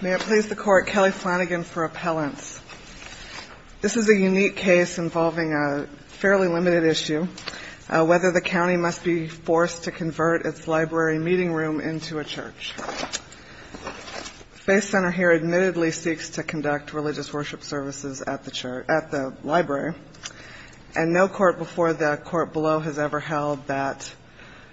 May it please the Court, Kelly Flanagan for appellants. This is a unique case involving a fairly limited issue, whether the county must be forced to convert its library meeting room into a church. The Faith Center here admittedly seeks to conduct religious worship services at the library, and no court before the court below has ever held that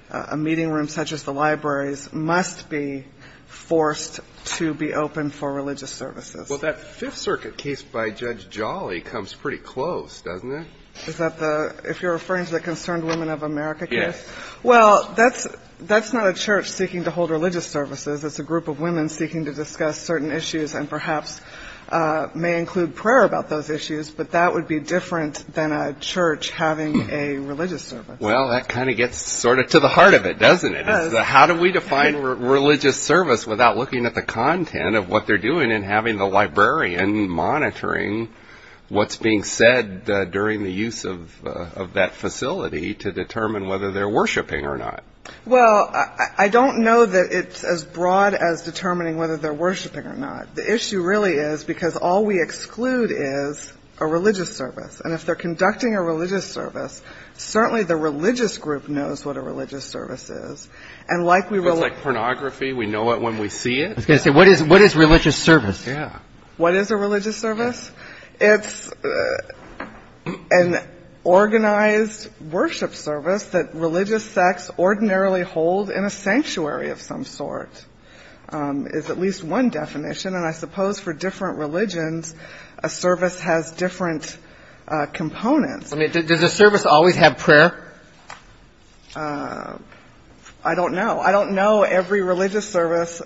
a meeting room such as the library's library be forced to be open for religious services. Well, that Fifth Circuit case by Judge Jolly comes pretty close, doesn't it? Is that the – if you're referring to the Concerned Women of America case? Yes. Well, that's not a church seeking to hold religious services. It's a group of women seeking to discuss certain issues, and perhaps may include prayer about those issues, but that would be different than a church having a religious service. Well, that kind of gets sort of to the heart of it, doesn't it? It does. How do we define religious service without looking at the content of what they're doing and having the librarian monitoring what's being said during the use of that facility to determine whether they're worshiping or not? Well, I don't know that it's as broad as determining whether they're worshiping or not. The issue really is because all we exclude is a religious service, and if they're conducting a religious service, certainly the religious group knows what a religious service is. It's like pornography. We know it when we see it. I was going to say, what is religious service? What is a religious service? It's an organized worship service that religious sects ordinarily hold in a sanctuary of some sort, is at least one definition. And I suppose for different religions, a service has different components. I mean, does a service always have prayer? I don't know. I don't know every religious service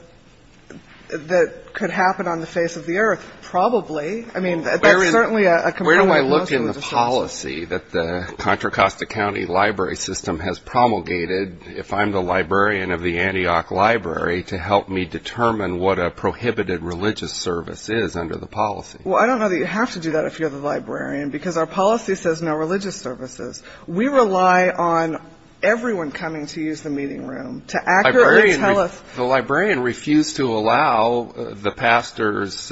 that could happen on the face of the earth probably. I mean, that's certainly a component of most religious services. Where do I look in the policy that the Contra Costa County Library System has promulgated, if I'm the librarian of the Antioch Library, to help me determine what a prohibited religious service is under the policy? Well, I don't know that you have to do that if you're the librarian because our policy says no religious services. We rely on everyone coming to use the meeting room to accurately tell us. The librarian refused to allow the pastor's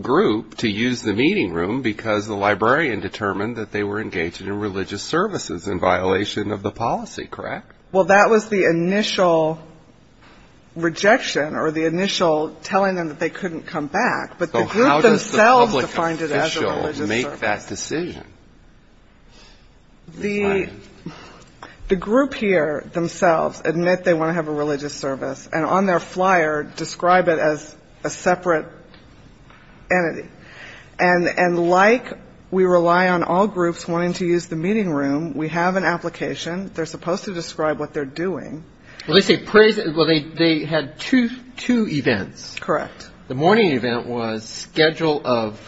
group to use the meeting room because the librarian determined that they were engaged in religious services in violation of the policy, correct? Well, that was the initial rejection or the initial telling them that they couldn't come back. So how does the public official make that decision? The group here themselves admit they want to have a religious service and on their flyer describe it as a separate entity. And like we rely on all groups wanting to use the meeting room, we have an application. They're supposed to describe what they're doing. Well, they had two events. Correct. The morning event was schedule of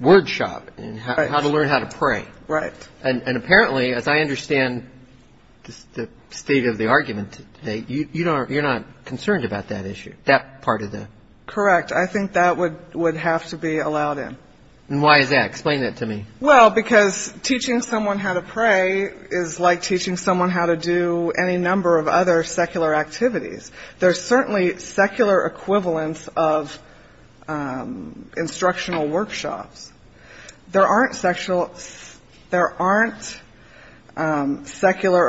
word shop and how to learn how to pray. Right. And apparently, as I understand the state of the argument today, you're not concerned about that issue, that part of the... Correct. I think that would have to be allowed in. And why is that? Explain that to me. Well, because teaching someone how to pray is like teaching someone how to do any number of other secular activities. There's certainly secular equivalence of instructional workshops. There aren't secular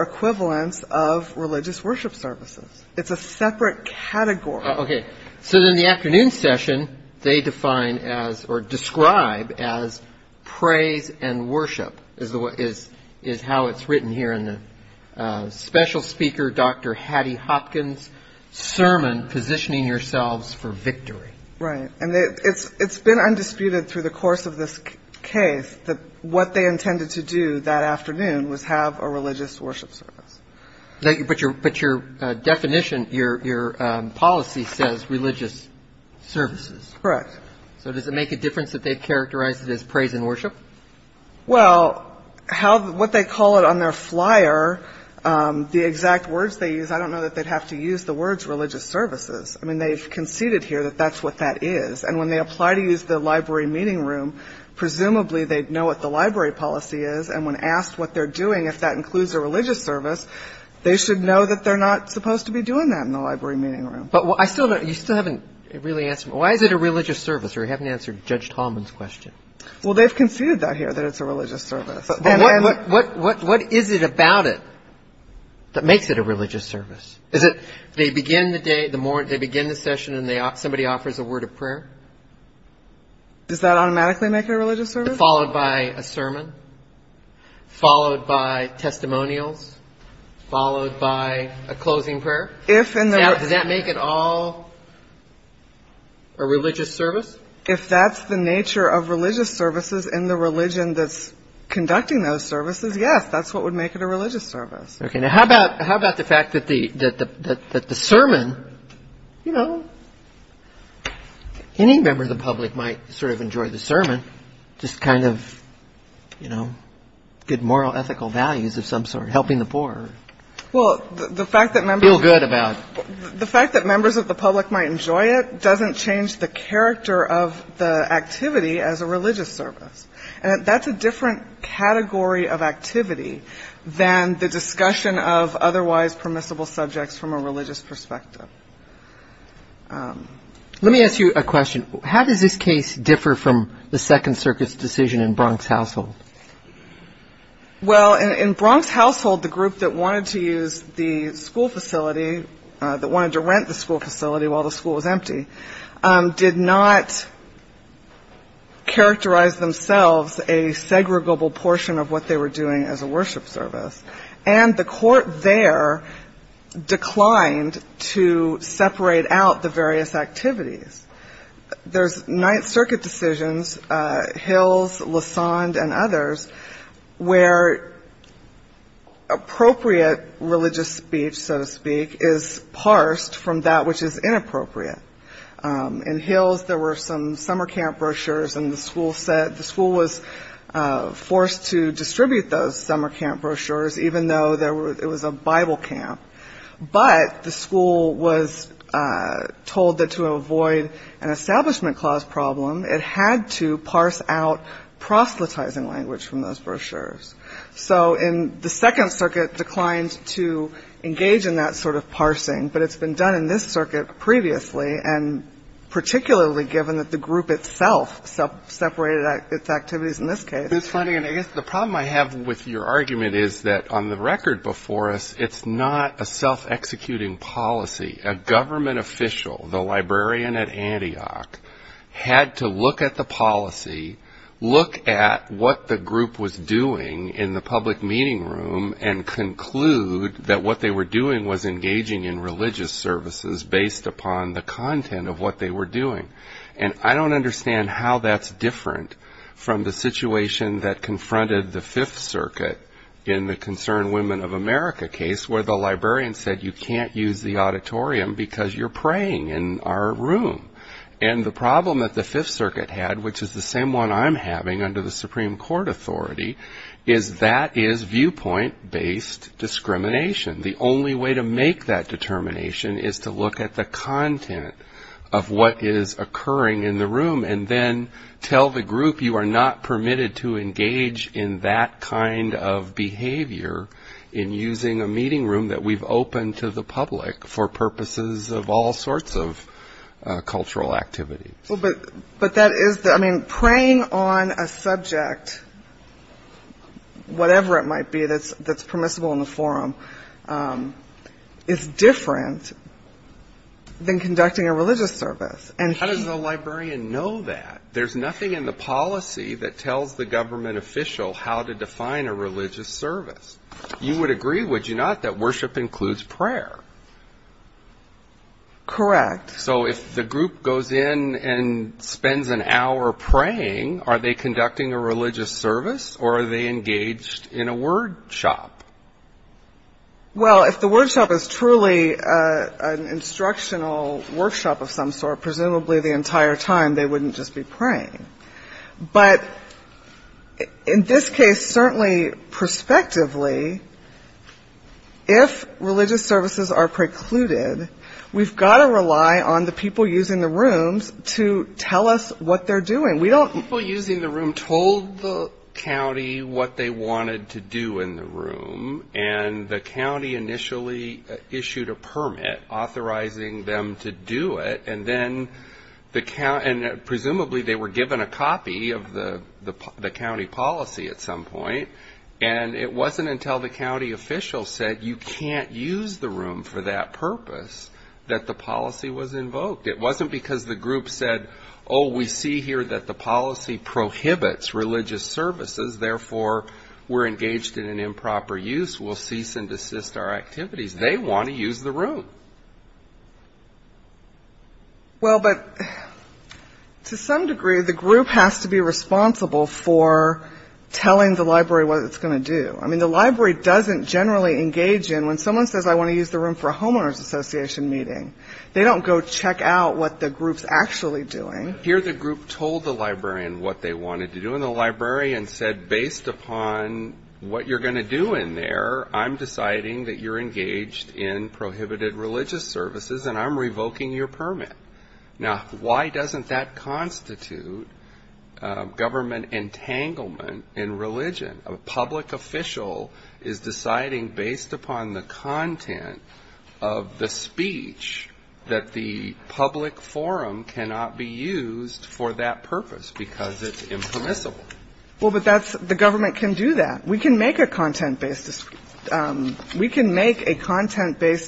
equivalence of religious worship services. It's a separate category. Okay. So in the afternoon session, they define as or describe as praise and worship is how it's written here. Special speaker, Dr. Hattie Hopkins, sermon, positioning yourselves for victory. Right. And it's been undisputed through the course of this case that what they intended to do that afternoon was have a religious worship service. But your definition, your policy says religious services. Correct. So does it make a difference that they characterize it as praise and worship? Well, what they call it on their flyer, the exact words they use, I don't know that they'd have to use the words religious services. I mean, they've conceded here that that's what that is. And when they apply to use the library meeting room, presumably they'd know what the library policy is. And when asked what they're doing, if that includes a religious service, they should know that they're not supposed to be doing that in the library meeting room. But you still haven't really answered me. Why is it a religious service? Or you haven't answered Judge Tallman's question. Well, they've conceded that here, that it's a religious service. What is it about it that makes it a religious service? Is it they begin the day, they begin the session and somebody offers a word of prayer? Does that automatically make it a religious service? Followed by a sermon, followed by testimonials, followed by a closing prayer. Does that make it all a religious service? If that's the nature of religious services and the religion that's conducting those services, yes, that's what would make it a religious service. Okay. Now, how about the fact that the sermon, you know, any member of the public might sort of enjoy the sermon, just kind of, you know, good moral, ethical values of some sort, helping the poor. Well, the fact that members of the public might enjoy it doesn't change the character of the activity as a religious service. And that's a different category of activity than the discussion of otherwise permissible subjects from a religious perspective. Let me ask you a question. How does this case differ from the Second Circuit's decision in Bronx Household? Well, in Bronx Household, the group that wanted to use the school facility, that wanted to rent the school facility while the school was empty, did not characterize themselves a segregable portion of what they were doing as a worship service. And the court there declined to separate out the various activities. There's Ninth Circuit decisions, Hills, Lassonde, and others, where appropriate religious speech, so to speak, is parsed from that which is inappropriate. In Hills, there were some summer camp brochures, and the school was forced to distribute those summer camp brochures even though it was a Bible camp. But the school was told that to avoid an establishment clause problem, it had to parse out proselytizing language from those brochures. So the Second Circuit declined to engage in that sort of parsing, but it's been done in this circuit previously, and particularly given that the group itself separated its activities in this case. I guess the problem I have with your argument is that on the record before us, it's not a self-executing policy. A government official, the librarian at Antioch, had to look at the policy, look at what the group was doing in the public meeting room, and conclude that what they were doing was engaging in religious services based upon the content of what they were doing. And I don't understand how that's different from the situation that confronted the Fifth Circuit in the Concerned Women of America case where the librarian said, you can't use the auditorium because you're praying in our room. And the problem that the Fifth Circuit had, which is the same one I'm having under the Supreme Court authority, is that is viewpoint-based discrimination. The only way to make that determination is to look at the content of what is occurring in the room and then tell the group you are not permitted to engage in that kind of behavior in using a meeting room that we've opened to the public for purposes of all sorts of cultural activities. But that is the, I mean, praying on a subject, whatever it might be, that's permissible in the forum, is different than conducting a religious service. How does the librarian know that? There's nothing in the policy that tells the government official how to define a religious service. You would agree, would you not, that worship includes prayer? Correct. So if the group goes in and spends an hour praying, are they conducting a religious service or are they engaged in a word shop? Well, if the word shop is truly an instructional workshop of some sort, presumably the entire time they wouldn't just be praying. But in this case, certainly prospectively, if religious services are precluded, we've got to rely on the people using the rooms to tell us what they're doing. People using the room told the county what they wanted to do in the room, and the county initially issued a permit authorizing them to do it, and then presumably they were given a copy of the county policy at some point, and it wasn't until the county official said you can't use the room for that purpose that the policy was invoked. It wasn't because the group said, oh, we see here that the policy prohibits religious services, therefore we're engaged in an improper use, we'll cease and desist our activities. They want to use the room. Well, but to some degree the group has to be responsible for telling the library what it's going to do. I mean, the library doesn't generally engage in, when someone says I want to use the room for a homeowners association meeting, they don't go check out what the group's actually doing. Here the group told the librarian what they wanted to do, and the librarian said based upon what you're going to do in there, I'm deciding that you're engaged in prohibited religious services and I'm revoking your permit. Now, why doesn't that constitute government entanglement in religion? A public official is deciding based upon the content of the speech that the public forum cannot be used for that purpose because it's impermissible. Well, but that's the government can do that. We can make a content-based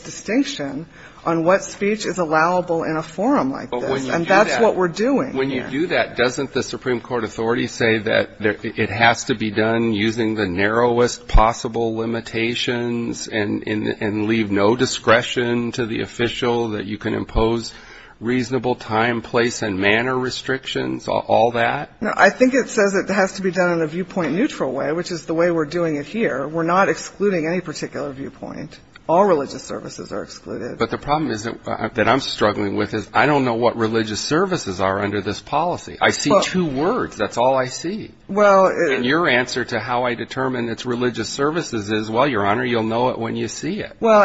distinction on what speech is allowable in a forum like this, and that's what we're doing here. But doesn't the Supreme Court authority say that it has to be done using the narrowest possible limitations and leave no discretion to the official that you can impose reasonable time, place and manner restrictions, all that? No, I think it says it has to be done in a viewpoint-neutral way, which is the way we're doing it here. We're not excluding any particular viewpoint. All religious services are excluded. But the problem that I'm struggling with is I don't know what religious services are under this policy. I see two words. That's all I see. And your answer to how I determine it's religious services is, well, Your Honor, you'll know it when you see it. Well,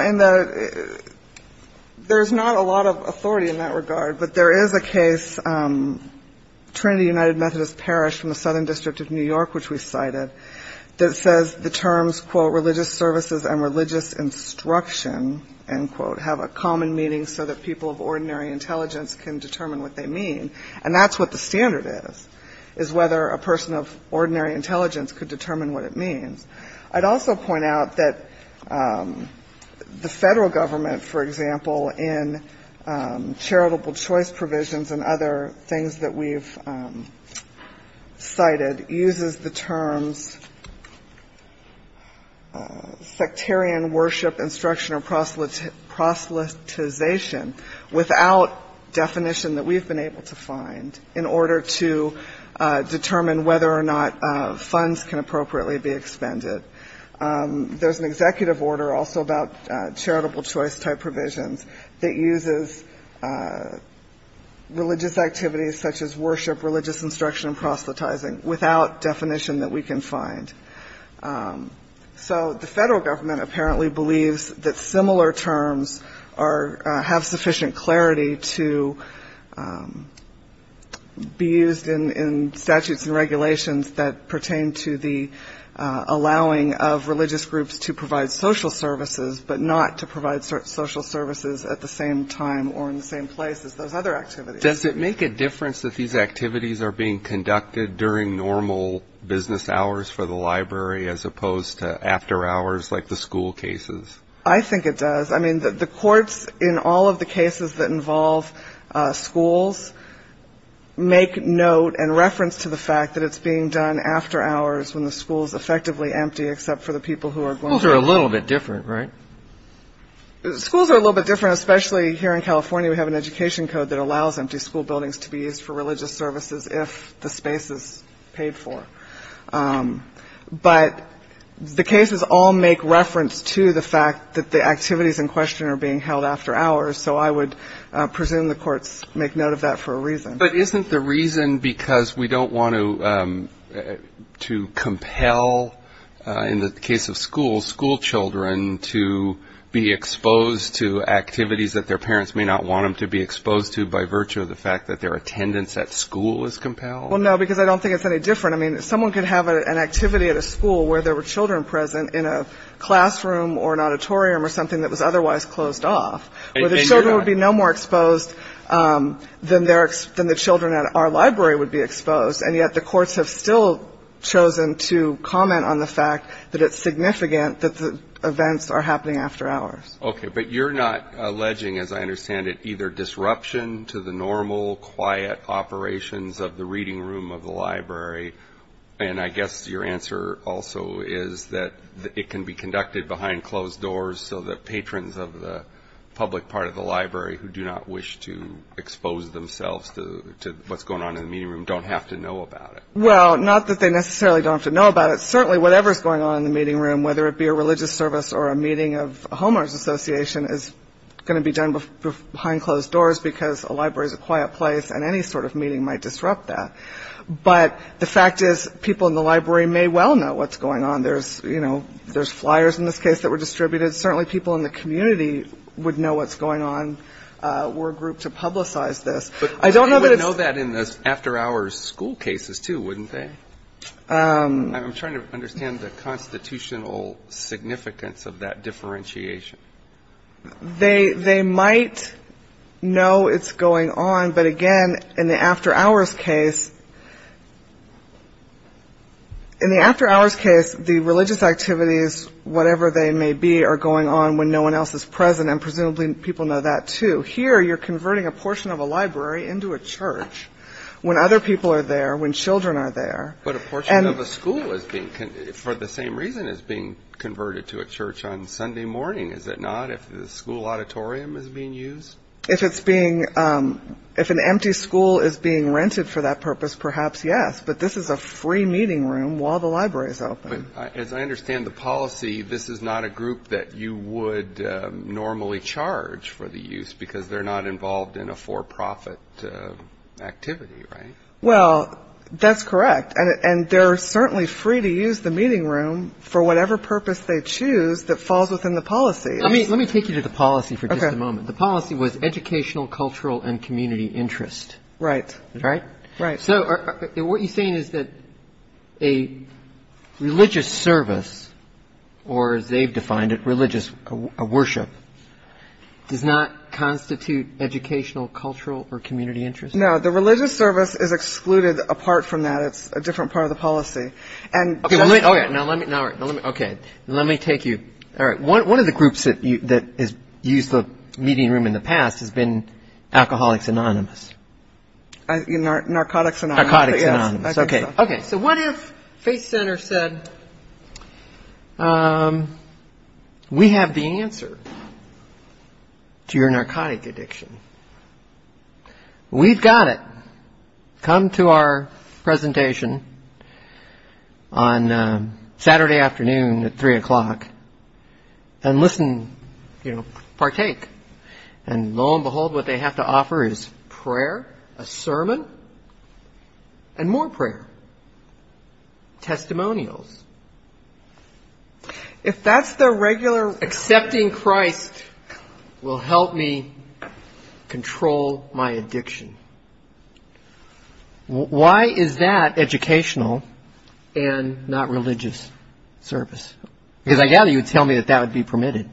there's not a lot of authority in that regard, but there is a case, Trinity United Methodist Parish from the Southern District of New York, which we cited, that says the terms, quote, and religious instruction, end quote, have a common meaning so that people of ordinary intelligence can determine what they mean. And that's what the standard is, is whether a person of ordinary intelligence could determine what it means. I'd also point out that the Federal Government, for example, in charitable choice provisions and other things that we've cited, uses the terms sectarian worship, instruction, or proselytization without definition that we've been able to find in order to determine whether or not funds can appropriately be expended. There's an executive order also about charitable choice type provisions that uses religious activities such as worship, religious instruction, and proselytizing without definition that we can find. So the Federal Government apparently believes that similar terms have sufficient clarity to be used in statutes and regulations that pertain to the allowing of religious groups to provide social services, but not to provide social services at the same time or in the same place as those other activities. Does it make a difference that these activities are being conducted during normal business hours for the library as opposed to after hours like the school cases? I think it does. I mean, the courts in all of the cases that involve schools make note and reference to the fact that it's being done after hours when the school is effectively empty, except for the people who are going there. Schools are a little bit different, right? Schools are a little bit different, especially here in California. We have an education code that allows empty school buildings to be used for religious services if the space is paid for. But the cases all make reference to the fact that the activities in question are being held after hours. So I would presume the courts make note of that for a reason. But isn't the reason because we don't want to compel, in the case of schools, school children to be exposed to activities that their parents may not want them to be exposed to by virtue of the fact that their attendance at school is compelled? Well, no, because I don't think it's any different. I mean, someone could have an activity at a school where there were children present in a classroom or an auditorium or something that was something that children at our library would be exposed. And yet the courts have still chosen to comment on the fact that it's significant that the events are happening after hours. Okay. But you're not alleging, as I understand it, either disruption to the normal, quiet operations of the reading room of the library? And I guess your answer also is that it can be conducted behind closed doors so that patrons of the public part of the library who do not wish to expose themselves to what's going on in the meeting room don't have to know about it. Well, not that they necessarily don't have to know about it. Certainly whatever is going on in the meeting room, whether it be a religious service or a meeting of a homeowners association, is going to be done behind closed doors because a library is a quiet place and any sort of meeting might disrupt that. But the fact is people in the library may well know what's going on. There's, you know, there's flyers in this case that were distributed. Certainly people in the community would know what's going on. We're a group to publicize this. But they would know that in those after-hours school cases, too, wouldn't they? I'm trying to understand the constitutional significance of that differentiation. They might know it's going on. But again, in the after-hours case, in the after-hours case, the religious activities, whatever they may be, are going on when no one else is present. And presumably people know that, too. Here you're converting a portion of a library into a church when other people are there, when children are there. But a portion of a school is being, for the same reason, is being converted to a church on Sunday morning, is it not, if the school auditorium is being used? If it's being, if an empty school is being rented for that purpose, perhaps, yes. But this is a free meeting room while the library is open. But as I understand the policy, this is not a group that you would normally charge for the use because they're not involved in a for-profit activity, right? Well, that's correct. And they're certainly free to use the meeting room for whatever purpose they choose that falls within the policy. Let me take you to the policy for just a moment. The policy was educational, cultural, and community interest. Right. So what you're saying is that a religious service, or as they've defined it, religious worship, does not constitute educational, cultural, or community interest? No. The religious service is excluded apart from that. It's a different part of the policy. Okay. Let me take you, one of the groups that has used the meeting room in the past has been Alcoholics Anonymous. Narcotics Anonymous. Narcotics Anonymous, okay. So what if Faith Center said, we have the answer to your narcotic addiction. We've got it. Come to our presentation on Saturday afternoon at 3 o'clock and listen, partake. And lo and behold, what they have to offer is prayer, a sermon, and more prayer. Testimonials. If that's their regular... Accepting Christ will help me control my addiction. Why is that educational and not religious service? Because I gather you would tell me that that would be permitted.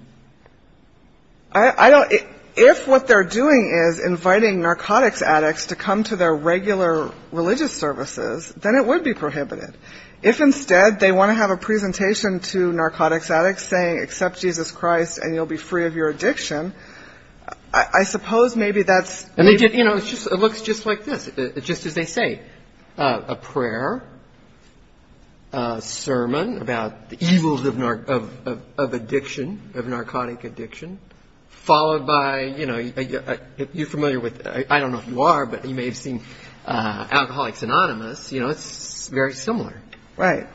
If what they're doing is inviting narcotics addicts to come to their regular religious services, then it would be prohibited. If instead they want to have a presentation to narcotics addicts saying, accept Jesus Christ and you'll be free of your addiction, I suppose maybe that's... You know, it looks just like this. Just as they say, a prayer, a sermon about the evils of addiction, of narcotic addiction, followed by, you know, you're familiar with, I don't know if you are, but you may have seen Alcoholics Anonymous, you know, it's very similar. Right.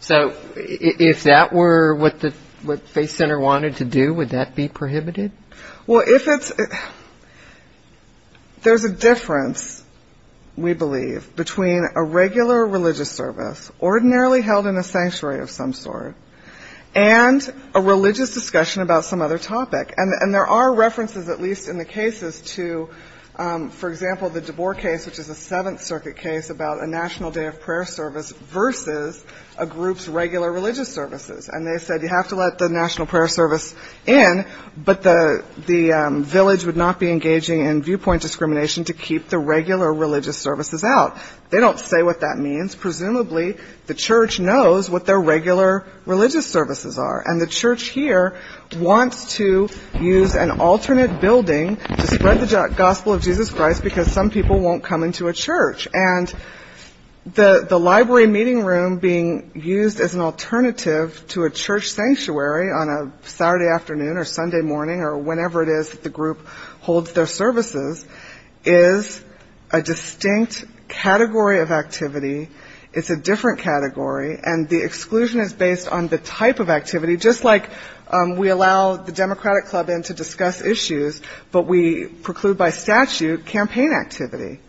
So if that were what the Faith Center wanted to do, would that be prohibited? Well, if it's... There's a difference, we believe, between a regular religious service, ordinarily held in a sanctuary of some sort, and a religious discussion about some other topic. And there are references at least in the cases to, for example, the DeBoer case, which is a Seventh Circuit case about a national day of prayer service versus a group's regular religious services. And they said you have to let the national prayer service in, but the village would not be engaging in viewpoint discrimination to keep the regular religious services out. They don't say what that means. Presumably the church knows what their regular religious services are, and the church here wants to use an alternate building to spread the gospel of Jesus Christ, because some people won't come into a church. And the library meeting room being used as an alternative to a church sanctuary on a Saturday afternoon or Sunday morning, or whenever it is that the group holds their services, is a distinct category of activity. It's a different category, and the exclusion is based on the type of activity, just like we allow the Democratic Club in to discuss issues, but we preclude by statute campaign activity.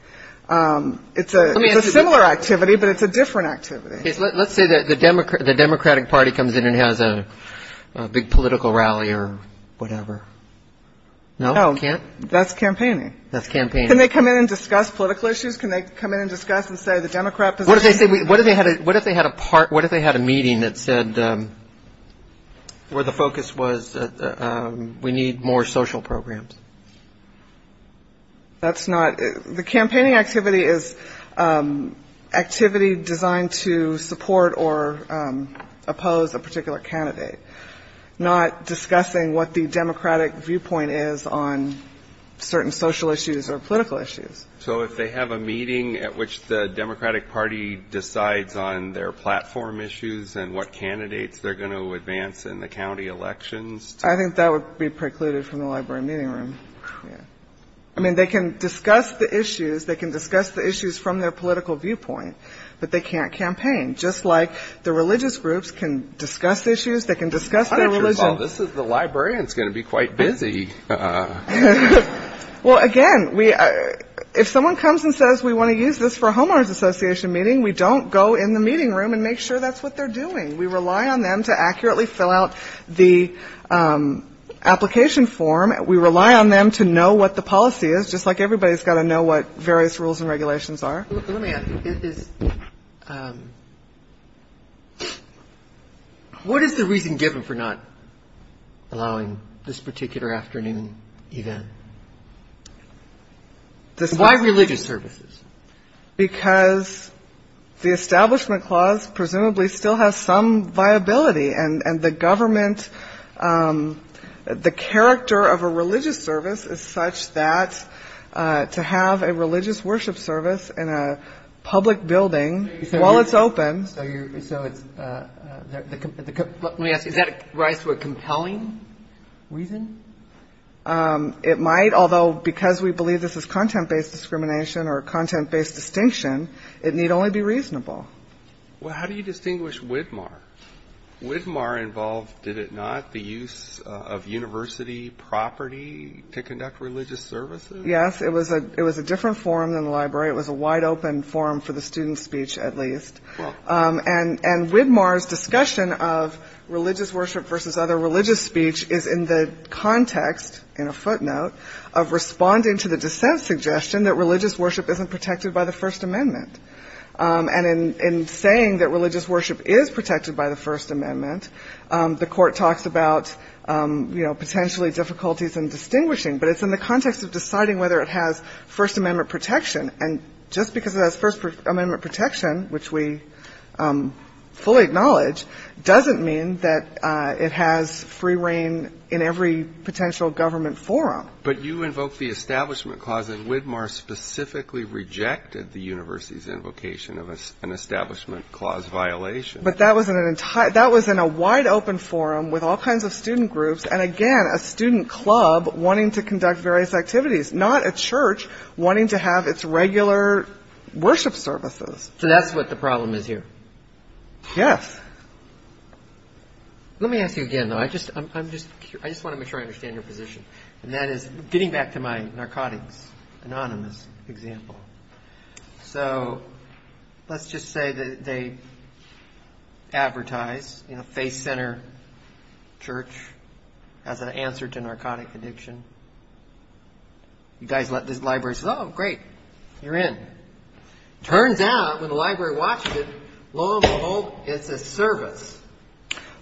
It's a similar activity, but it's a different activity. Let's say the Democratic Party comes in and has a big political rally or whatever. No, that's campaigning. Can they come in and discuss political issues? Can they come in and discuss and say the Democrat position? What if they had a meeting that said where the focus was we need more social programs? That's not the campaigning activity is activity designed to support or oppose a particular candidate, not discussing what the Democratic viewpoint is on certain social issues or political issues. So if they have a meeting at which the Democratic Party decides on their platform issues and what candidates they're going to advance in the county elections. I think that would be precluded from the library meeting room. I mean, they can discuss the issues. They can discuss the issues from their political viewpoint, but they can't campaign, just like the religious groups can discuss issues. They can discuss their religion. This is the librarians going to be quite busy. Well, again, if someone comes and says we want to use this for a homeowners association meeting, we don't go in the meeting room and make sure that's what they're doing. We rely on them to accurately fill out the application form. We rely on them to know what the policy is, just like everybody's got to know what various rules and regulations are. Let me ask you. What is the reason given for not allowing this particular afternoon event? Why religious services? Because the Establishment Clause presumably still has some viability, and the government, the character of a religious service is such that to have a religious worship service in a public building while it's open. Let me ask you. Does that rise to a compelling reason? It might, although because we believe this is content-based discrimination or content-based distinction, it need only be reasonable. Well, how do you distinguish WIDMAR? WIDMAR involved, did it not, the use of university property to conduct religious services? Yes, it was a different forum than the library. It was a wide-open forum for the student speech, at least. And WIDMAR's discussion of religious worship versus other religious speech is in the context, in a footnote, of responding to the dissent suggestion that religious worship isn't protected by the First Amendment. And in saying that religious worship is protected by the First Amendment, the Court talks about, you know, potentially difficulties in distinguishing. But it's in the context of deciding whether it has First Amendment protection. And just because it has First Amendment protection, which we fully acknowledge, doesn't mean that it has free reign in every potential government forum. But you invoke the Establishment Clause, and WIDMAR specifically rejected the university's invocation of an Establishment Clause violation. But that was in a wide-open forum with all kinds of student groups and, again, a student club wanting to conduct various activities, not a church wanting to have its regular worship services. So that's what the problem is here? Yes. Let me ask you again, though. I just want to make sure I understand your position. And that is getting back to my narcotics, anonymous example. So let's just say that they advertise, you know, Faith Center Church as an answer to narcotic addiction. You guys let the library say, oh, great, you're in. Turns out, when the library watched it, lo and behold, it's a service.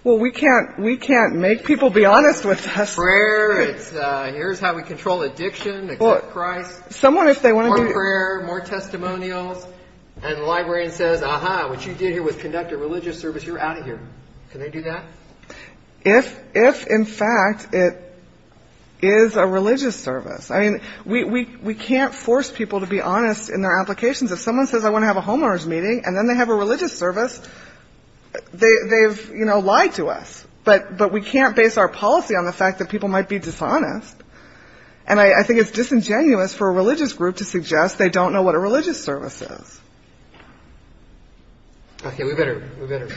Well, we can't make people be honest with us. Prayer, it's here's how we control addiction, accept Christ. Someone, if they want to do that. More prayer, more testimonials. And the librarian says, aha, what you did here was conduct a religious service. You're out of here. Can they do that? If if, in fact, it is a religious service. I mean, we we we can't force people to be honest in their applications. If someone says I want to have a homeowners meeting and then they have a religious service, they've, you know, lied to us. But but we can't base our policy on the fact that people might be dishonest. And I think it's disingenuous for a religious group to suggest they don't know what a religious services. OK, we better we better.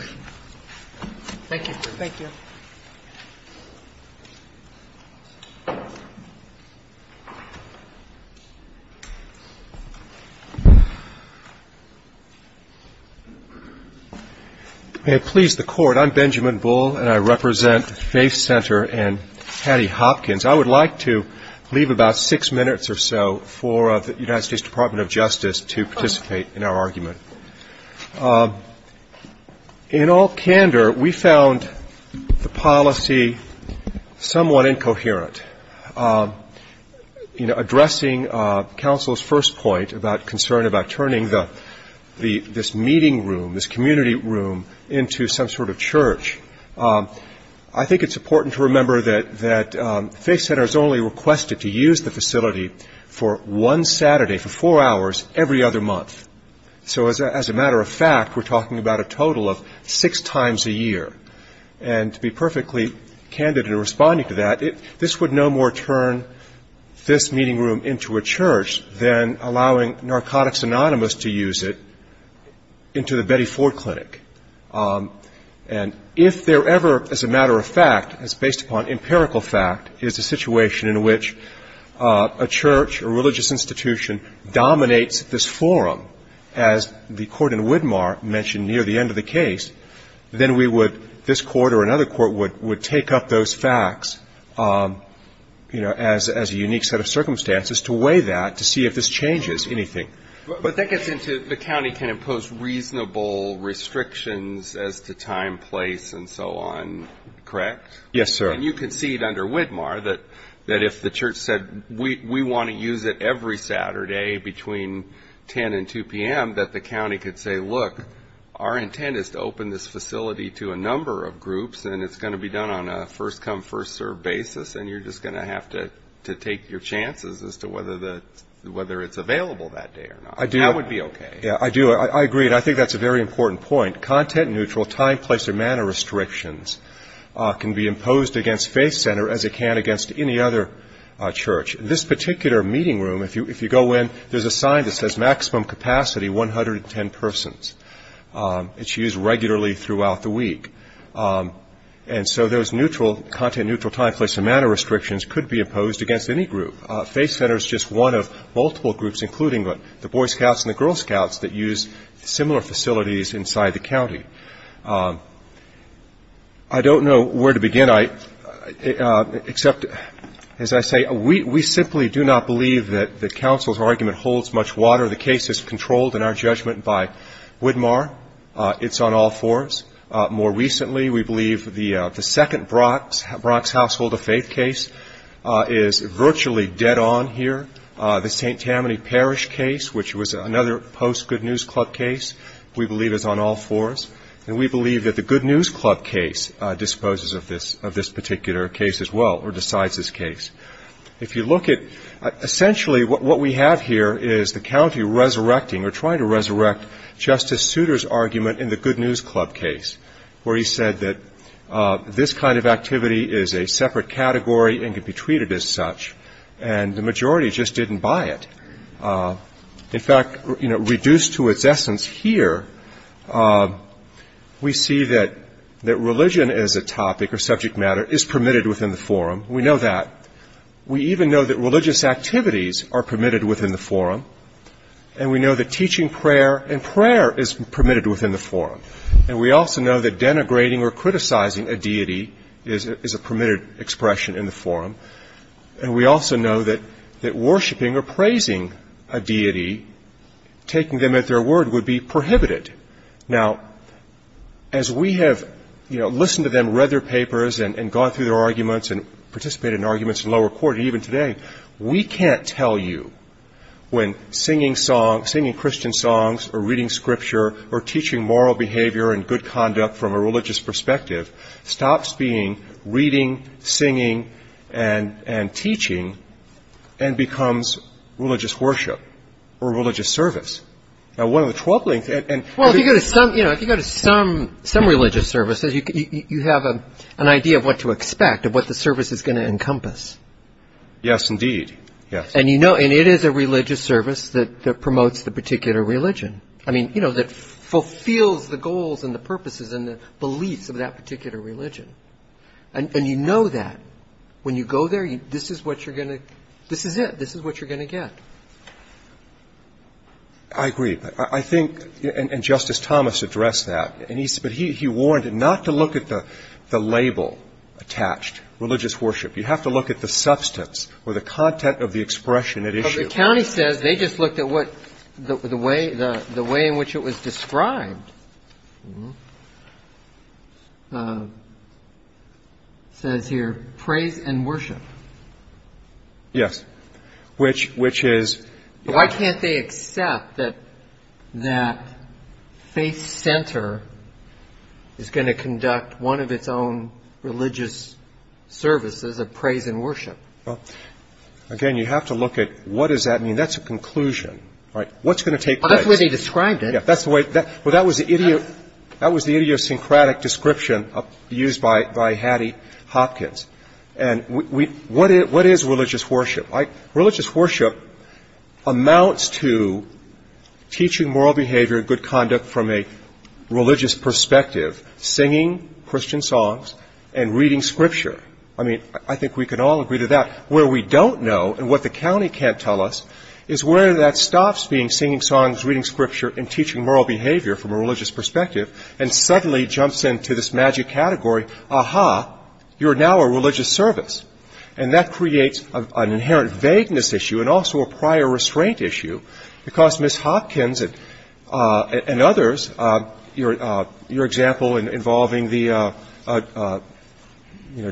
Thank you. Thank you. May it please the court. I'm Benjamin Bull and I represent Faith Center and Patty Hopkins. I would like to leave about six minutes or so for the United States Department of Justice to participate in our argument. In all candor, we found the policy somewhat incoherent. Addressing counsel's first point about concern about turning the this meeting room, this community room into some sort of church. I think it's important to remember that that faith centers only requested to use the facility for one Saturday for four hours every other month. So as a matter of fact, we're talking about a total of six times a year. And to be perfectly candid in responding to that, this would no more turn this meeting room into a church than allowing Narcotics Anonymous to use it into the Betty Ford Clinic. And if there ever, as a matter of fact, it's based upon empirical fact, is a situation in which a church or religious institution dominates this forum, as the court in Widmar mentioned near the end of the case, then we would this court or another court would take up those facts, you know, as a unique set of circumstances to weigh that to see if this changes anything. But that gets into the county can impose reasonable restrictions as to time, place, and so on, correct? Yes, sir. And you can see it under Widmar that if the church said we want to use it every Saturday between 10 and 2 p.m., that the county could say, look, our intent is to open this facility to a number of groups, and it's going to be done on a first-come, first-served basis, and you're just going to have to take your chances as to whether it's available that day or not. I do. That would be okay. Yeah, I do. I agree, and I think that's a very important point. Content-neutral time, place, or manner restrictions can be imposed against Faith Center as it can against any other church. This particular meeting room, if you go in, there's a sign that says maximum capacity, 110 persons. It's used regularly throughout the week. And so those neutral, content-neutral time, place, and manner restrictions could be imposed against any group. Faith Center is just one of multiple groups, including the Boy Scouts and the Girl Scouts, that use similar facilities inside the county. I don't know where to begin, except, as I say, we simply do not believe that the council's argument holds much water. The case is controlled in our judgment by Widmar. It's on all fours. More recently, we believe the second Brock's Household of Faith case is virtually dead on here. The St. Tammany Parish case, which was another post-Good News Club case, we believe is on all fours. And we believe that the Good News Club case disposes of this particular case as well, or decides this case. If you look at essentially what we have here is the county resurrecting or trying to resurrect Justice Souter's argument in the Good News Club case, where he said that this kind of activity is a separate category and could be treated as such. And the majority just didn't buy it. In fact, reduced to its essence here, we see that religion as a topic or subject matter is permitted within the forum. We know that. We even know that religious activities are permitted within the forum. And we know that teaching prayer and prayer is permitted within the forum. And we also know that denigrating or criticizing a deity is a permitted expression in the forum. And we also know that worshiping or praising a deity, taking them at their word, would be prohibited. Now, as we have listened to them, read their papers, and gone through their arguments and participated in arguments in lower court, and even today, we can't tell you when singing Christian songs or reading scripture or teaching moral behavior and good conduct from a religious perspective stops being reading, singing, and teaching and becomes religious worship or religious service. Well, if you go to some religious services, you have an idea of what to expect, of what the service is going to encompass. Yes, indeed. And it is a religious service that promotes the particular religion, that fulfills the goals and the purposes and the beliefs of that particular religion. And you know that. When you go there, this is what you're going to get. I agree. I think, and Justice Thomas addressed that, but he warned not to look at the label attached, religious worship. You have to look at the substance or the content of the expression at issue. But the county says they just looked at what the way in which it was described. It says here, praise and worship. Yes. Why can't they accept that that faith center is going to conduct one of its own religious services of praise and worship? Again, you have to look at what does that mean. That's a conclusion. What's going to take place? That's the way they described it. That was the idiosyncratic description used by Hattie Hopkins. What is religious worship? Religious worship amounts to teaching moral behavior and good conduct from a religious perspective, singing Christian songs and reading scripture. I mean, I think we can all agree to that. Where we don't know and what the county can't tell us is where that stops being singing songs, reading scripture and teaching moral behavior from a religious perspective and suddenly jumps into this magic category. Aha, you're now a religious service. And that creates an inherent vagueness issue and also a prior restraint issue. Because Ms. Hopkins and others, your example involving the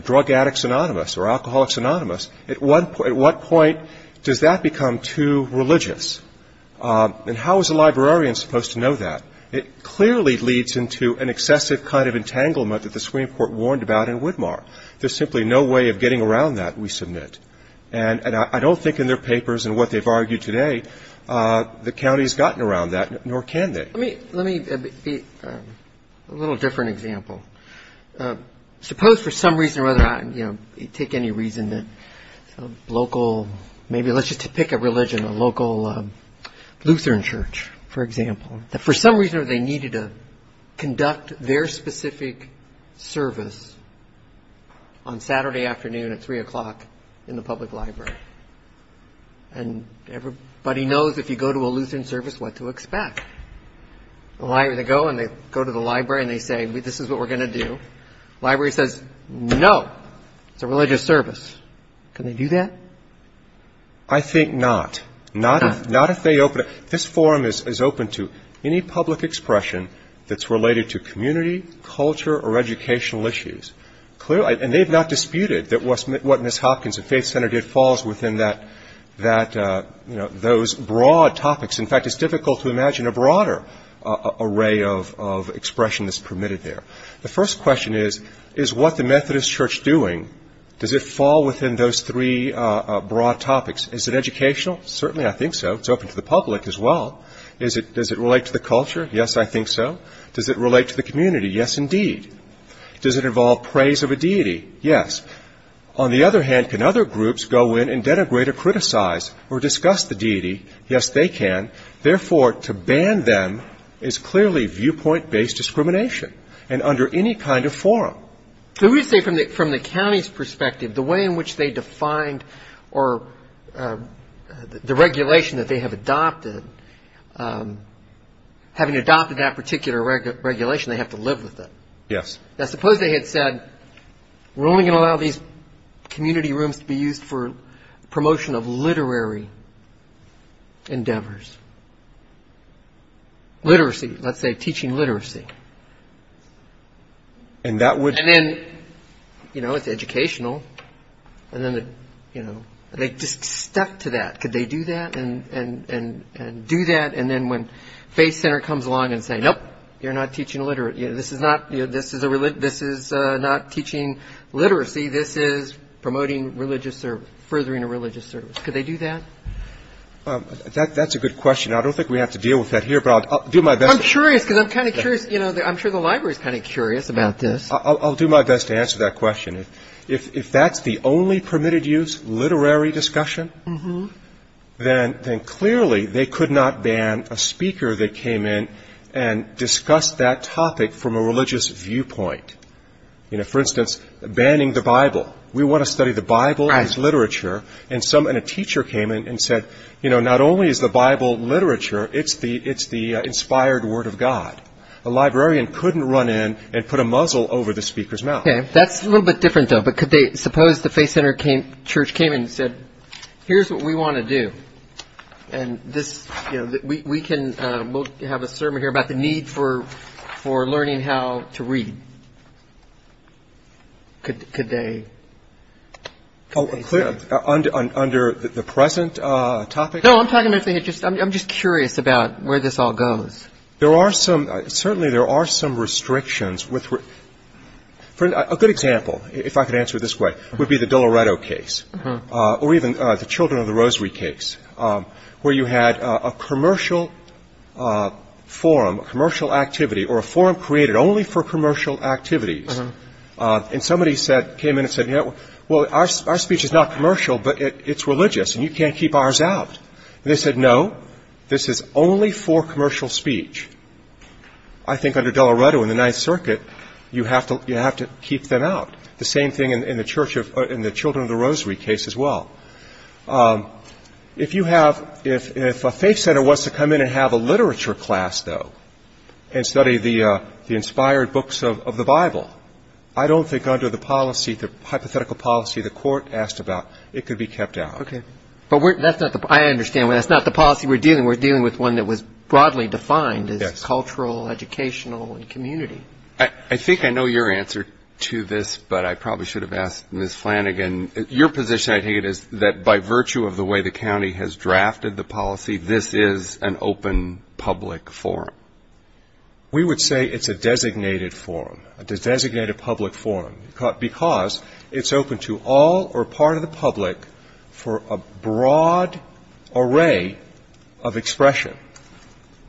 drug addicts anonymous or alcoholics anonymous, at what point does that become too religious? And how is a librarian supposed to know that? It clearly leads into an excessive kind of entanglement that the Supreme Court warned about in Widmar. There's simply no way of getting around that, we submit. And I don't think in their papers and what they've argued today, the county's gotten around that, nor can they. Let me give a little different example. Suppose for some reason or other, you know, take any reason that local, maybe let's just pick a religion, a local Lutheran church, for example, that for some reason or other, they needed to conduct their specific service on Saturday afternoon at 3 o'clock in the public library. And everybody knows if you go to a Lutheran service, what to expect. They go and they go to the library and they say, this is what we're going to do. Library says, no, it's a religious service. Can they do that? I think not. Not if they open it. This forum is open to any public expression that's related to community, culture, or educational issues. And they've not disputed that what Ms. Hopkins and Faith Center did falls within that, you know, those broad topics. In fact, it's difficult to imagine a broader array of expression that's permitted there. The first question is, is what the Methodist Church doing, Does it fall within those three broad topics? Is it educational? Certainly, I think so. It's open to the public as well. Does it relate to the culture? Yes, I think so. Does it relate to the community? Yes, indeed. Does it involve praise of a deity? Yes. On the other hand, can other groups go in and denigrate or criticize or discuss the deity? Yes, they can. Therefore, to ban them is clearly viewpoint-based discrimination and under any kind of forum. We would say from the county's perspective, the way in which they defined or the regulation that they have adopted, having adopted that particular regulation, they have to live with it. Yes. Now, suppose they had said, we're only going to allow these community rooms to be used for promotion of literary endeavors. Literacy, let's say, teaching literacy. And then, you know, it's educational. And then, you know, they just stuck to that. Could they do that and do that? And then when Faith Center comes along and says, nope, you're not teaching literacy, this is not teaching literacy, this is promoting religious service, furthering a religious service. Could they do that? That's a good question. I don't think we have to deal with that here, but I'll do my best. Well, I'm curious because I'm kind of curious, you know, I'm sure the library is kind of curious about this. I'll do my best to answer that question. If that's the only permitted use, literary discussion, then clearly they could not ban a speaker that came in and discussed that topic from a religious viewpoint. You know, for instance, banning the Bible. We want to study the Bible as literature. And a teacher came in and said, you know, not only is the Bible literature, it's the inspired word of God. A librarian couldn't run in and put a muzzle over the speaker's mouth. Okay. That's a little bit different, though. But suppose the Faith Center Church came in and said, here's what we want to do. And we can have a sermon here about the need for learning how to read. Could they? Under the present topic? No, I'm talking, I'm just curious about where this all goes. There are some, certainly there are some restrictions. A good example, if I could answer it this way, would be the Doloreto case. Or even the Children of the Rosary case, where you had a commercial forum, a commercial activity, or a forum created only for commercial activities. And somebody said, came in and said, you know, well, our speech is not commercial, but it's religious, and you can't keep ours out. And they said, no, this is only for commercial speech. I think under Doloreto in the Ninth Circuit, you have to keep them out. The same thing in the Children of the Rosary case as well. If you have, if a faith center wants to come in and have a literature class, though, and study the inspired books of the Bible, I don't think under the policy, the hypothetical policy the court asked about, it could be kept out. Okay. But that's not the, I understand, that's not the policy we're dealing with. We're dealing with one that was broadly defined as cultural, educational, and community. I think I know your answer to this, but I probably should have asked Ms. Flanagan. Your position, I think, is that by virtue of the way the county has drafted the policy, this is an open public forum. We would say it's a designated forum, a designated public forum, because it's open to all or part of the public for a broad array of expression.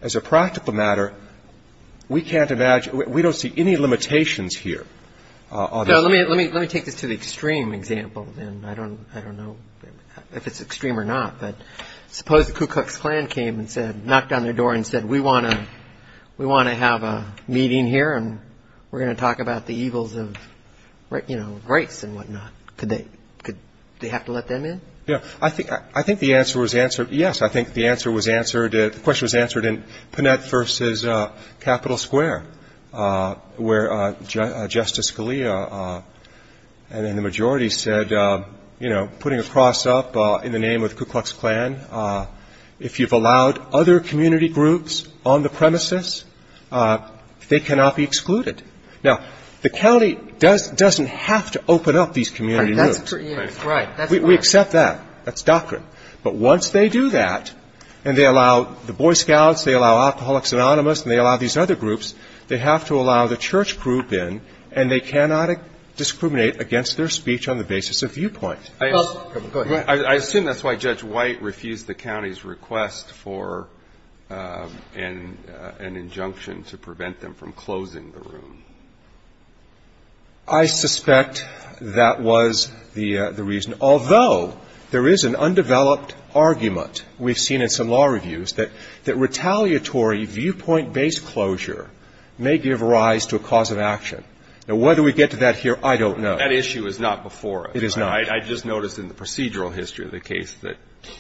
As a practical matter, we can't imagine, we don't see any limitations here. Let me take this to the extreme example, and I don't know if it's extreme or not, but suppose the Ku Klux Klan came and said, knocked on their door and said, we want to have a meeting here and we're going to talk about the evils of, you know, rights and whatnot. Do they have to let them in? Yeah. I think the answer was answered, yes, I think the answer was answered, the question was answered in Panett versus Capitol Square where Justice Scalia and then the majority said, you know, putting a cross up in the name of the Ku Klux Klan, if you've allowed other community groups on the premises, they cannot be excluded. Now, the county doesn't have to open up these community groups. Right. We accept that. That's doctrine. But once they do that and they allow the Boy Scouts, they allow Alcoholics Anonymous and they allow these other groups, they have to allow the church group in, and they cannot discriminate against their speech on the basis of viewpoint. Well, go ahead. I assume that's why Judge White refused the county's request for an injunction to prevent them from closing the room. I suspect that was the reason. Although there is an undeveloped argument we've seen in some law reviews that retaliatory viewpoint-based closure may give rise to a cause of action. Now, whether we get to that here, I don't know. That issue is not before us. It is not. I just noticed in the procedural history of the case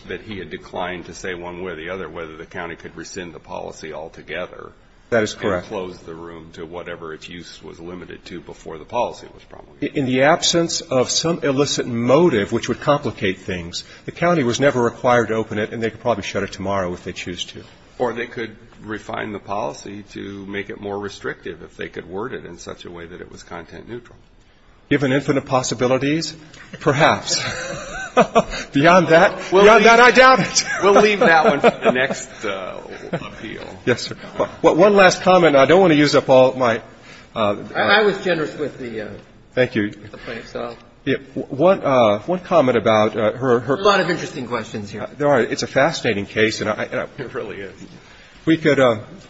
that he had declined to say one way or the other whether the county could rescind the policy altogether. That is correct. Or close the room to whatever its use was limited to before the policy was promulgated. In the absence of some illicit motive which would complicate things, the county was never required to open it, and they could probably shut it tomorrow if they choose to. Or they could refine the policy to make it more restrictive if they could word it in such a way that it was content neutral. Given infinite possibilities, perhaps. Beyond that, I doubt it. We'll leave that one for the next appeal. Yes, sir. One last comment. I don't want to use up all my time. I was generous with the plaintiff's time. Thank you. One comment about her. There are a lot of interesting questions here. It's a fascinating case. It really is.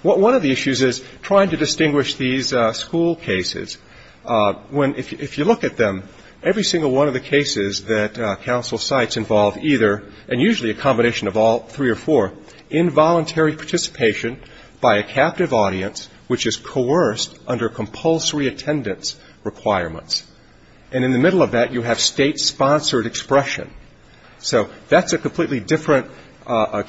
One of the issues is trying to distinguish these school cases. If you look at them, every single one of the cases that counsel cites involved either, and usually a combination of all three or four, involuntary participation by a captive audience which is coerced under compulsory attendance requirements. And in the middle of that, you have state-sponsored expression. So that's a completely different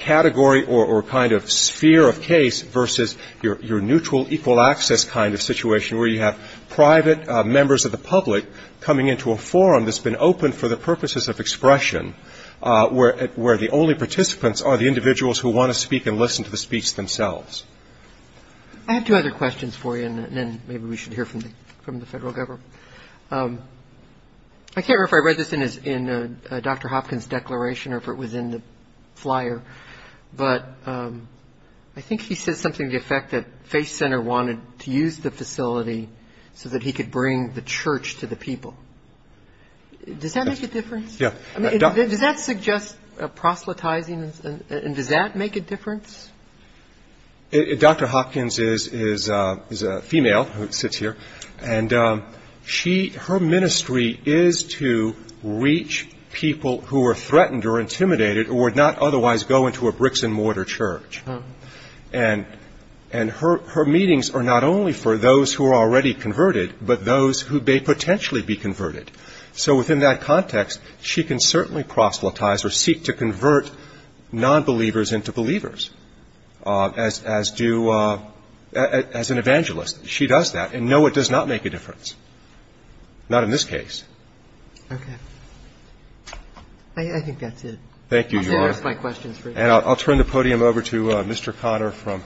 category or kind of sphere of case versus your neutral, equal access kind of situation where you have private members of the public coming into a forum that's been opened for the purposes of expression where the only participants are the individuals who want to speak and listen to the speech themselves. I have two other questions for you, and then maybe we should hear from the Federal Government. I can't remember if I read this in Dr. Hopkins' declaration or if it was in the flyer, but I think he said something to the effect that Face Center wanted to use the facility so that he could bring the church to the people. Does that make a difference? Yeah. Does that suggest proselytizing, and does that make a difference? Dr. Hopkins is a female who sits here, and her ministry is to reach people who are threatened or intimidated or would not otherwise go into a bricks-and-mortar church. And her meetings are not only for those who are already converted, but those who may potentially be converted. So within that context, she can certainly proselytize or seek to convert nonbelievers into believers, as do as an evangelist. She does that. And, no, it does not make a difference, not in this case. Okay. I think that's it. Thank you, Your Honor. I'll turn the podium over to Mr. Conner from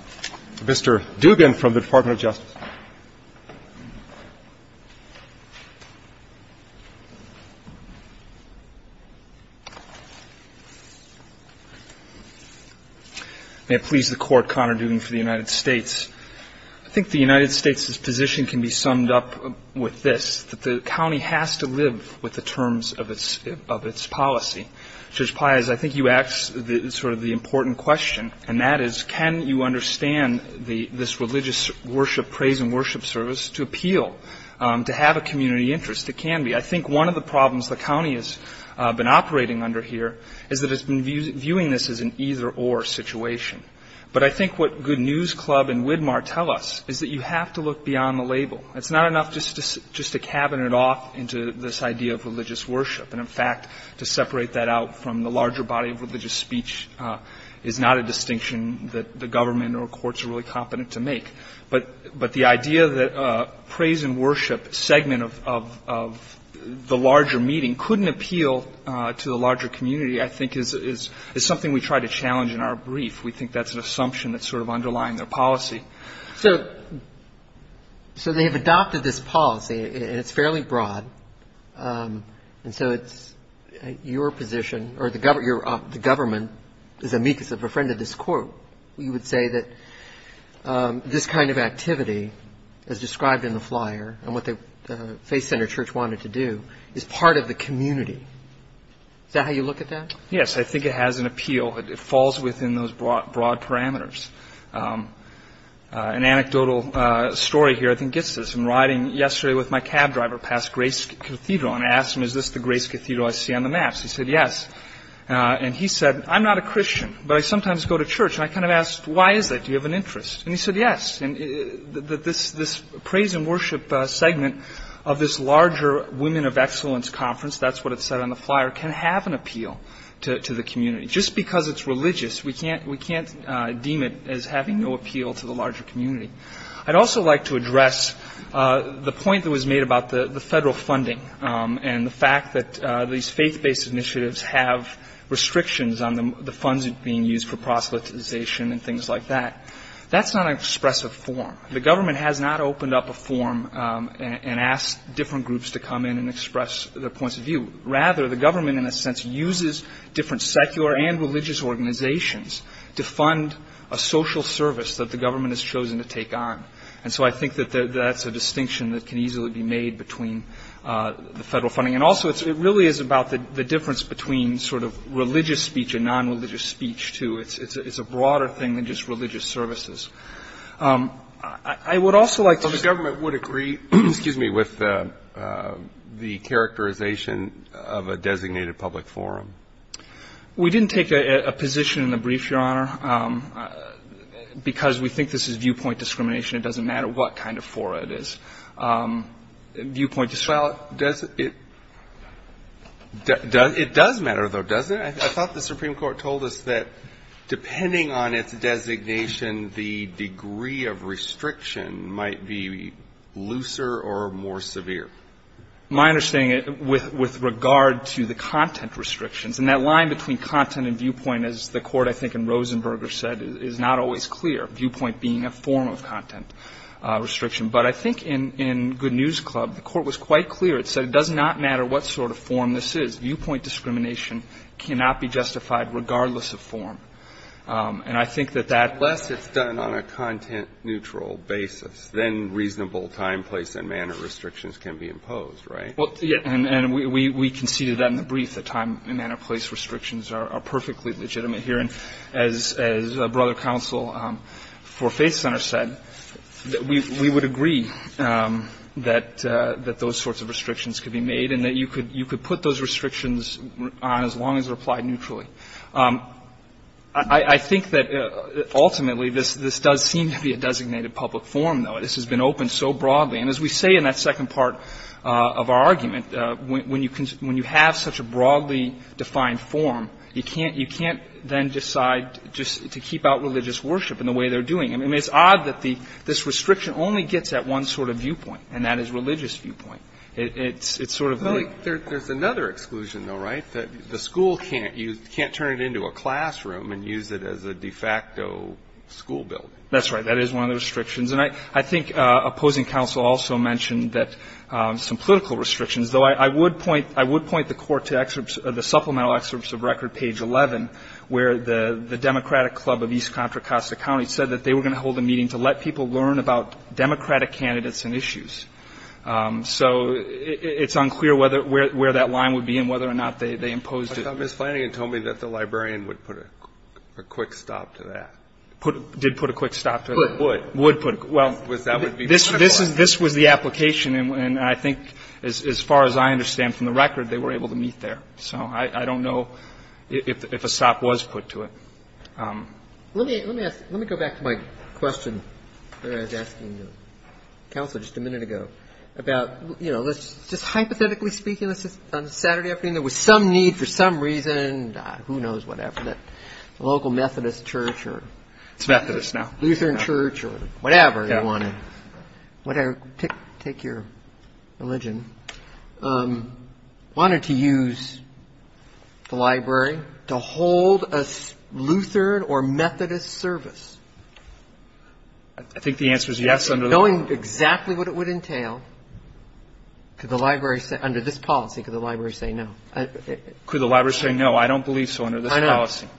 Mr. Dugan from the Department of Justice. May it please the Court, Conner Dugan for the United States. I think the United States' position can be summed up with this, that the county has to live with the terms of its policy. Judge Pais, I think you asked sort of the important question, and that is, can you understand this religious worship practice to appeal to have a community interest? It can be. I think one of the problems the county has been operating under here is that it's been viewing this as an either-or situation. But I think what Good News Club and Widmar tell us is that you have to look beyond the label. It's not enough just to cabin it off into this idea of religious worship. And, in fact, to separate that out from the larger body of religious speech is not a distinction that the government or courts are really competent to make. But the idea that praise and worship segment of the larger meeting couldn't appeal to the larger community, I think, is something we try to challenge in our brief. We think that's an assumption that's sort of underlying their policy. So they have adopted this policy, and it's fairly broad. And so it's your position, or the government, is amicus of a friend of this Court. So you would say that this kind of activity, as described in the flyer, and what the faith-centered church wanted to do, is part of the community. Is that how you look at that? Yes. I think it has an appeal. It falls within those broad parameters. An anecdotal story here, I think, gets this. I'm riding yesterday with my cab driver past Grace Cathedral, and I asked him, is this the Grace Cathedral I see on the maps? He said, yes. And he said, I'm not a Christian, but I sometimes go to church. And I kind of asked, why is that? Do you have an interest? And he said, yes. This praise and worship segment of this larger Women of Excellence Conference, that's what it said on the flyer, can have an appeal to the community. Just because it's religious, we can't deem it as having no appeal to the larger community. I'd also like to address the point that was made about the federal funding and the fact that these faith-based initiatives have restrictions on the funds being used for proselytization and things like that. That's not an expressive form. The government has not opened up a form and asked different groups to come in and express their points of view. Rather, the government, in a sense, uses different secular and religious organizations to fund a social service that the government has chosen to take on. And so I think that that's a distinction that can easily be made between the federal funding. And also, it really is about the difference between sort of religious speech and non-religious speech, too. It's a broader thing than just religious services. I would also like to ---- But the government would agree with the characterization of a designated public forum. We didn't take a position in the brief, Your Honor, because we think this is viewpoint discrimination. It doesn't matter what kind of fora it is. Viewpoint ---- Well, it does matter, though, doesn't it? I thought the Supreme Court told us that depending on its designation, the degree of restriction might be looser or more severe. My understanding, with regard to the content restrictions, and that line between content and viewpoint, as the Court, I think, in Rosenberger said, is not always clear, viewpoint being a form of content restriction. But I think in Good News Club, the Court was quite clear. It said it does not matter what sort of forum this is. Viewpoint discrimination cannot be justified regardless of forum. And I think that that ---- Unless it's done on a content-neutral basis, then reasonable time, place, and manner restrictions can be imposed, right? And we conceded that in the brief, that time and manner place restrictions are perfectly legitimate here. And as Brother Counsel for Faith Center said, we would agree that those sorts of restrictions could be made and that you could put those restrictions on as long as they're applied neutrally. I think that ultimately this does seem to be a designated public forum, though. This has been open so broadly. And as we say in that second part of our argument, when you have such a broadly defined forum, you can't then decide just to keep out religious worship in the way they're doing. I mean, it's odd that this restriction only gets at one sort of viewpoint, and that is religious viewpoint. It's sort of like ---- There's another exclusion, though, right? The school can't use ---- can't turn it into a classroom and use it as a de facto school building. That's right. That is one of the restrictions. And I think opposing counsel also mentioned that some political restrictions, though I would point the Court to the supplemental excerpts of record, page 11, where the Democratic Club of East Contra Costa County said that they were going to hold a meeting to let people learn about Democratic candidates and issues. So it's unclear whether ---- where that line would be and whether or not they imposed it. But Justice Flanagan told me that the librarian would put a quick stop to that. Did put a quick stop to that. Would. Would put a ---- well, this was the application. And I think as far as I understand from the record, they were able to meet there. So I don't know if a stop was put to it. Let me ask ---- let me go back to my question that I was asking the counselor just a minute ago about, you know, just hypothetically speaking, on a Saturday afternoon, there was some need for some reason, god, who knows whatever, that local Methodist church or ---- It's Methodist now. Lutheran church or whatever you want to ---- Okay. Whatever. Take your religion. Wanted to use the library to hold a Lutheran or Methodist service. I think the answer is yes under the ---- Knowing exactly what it would entail, could the library say under this policy, could the library say no? Could the library say no? I don't believe so under this policy. I know.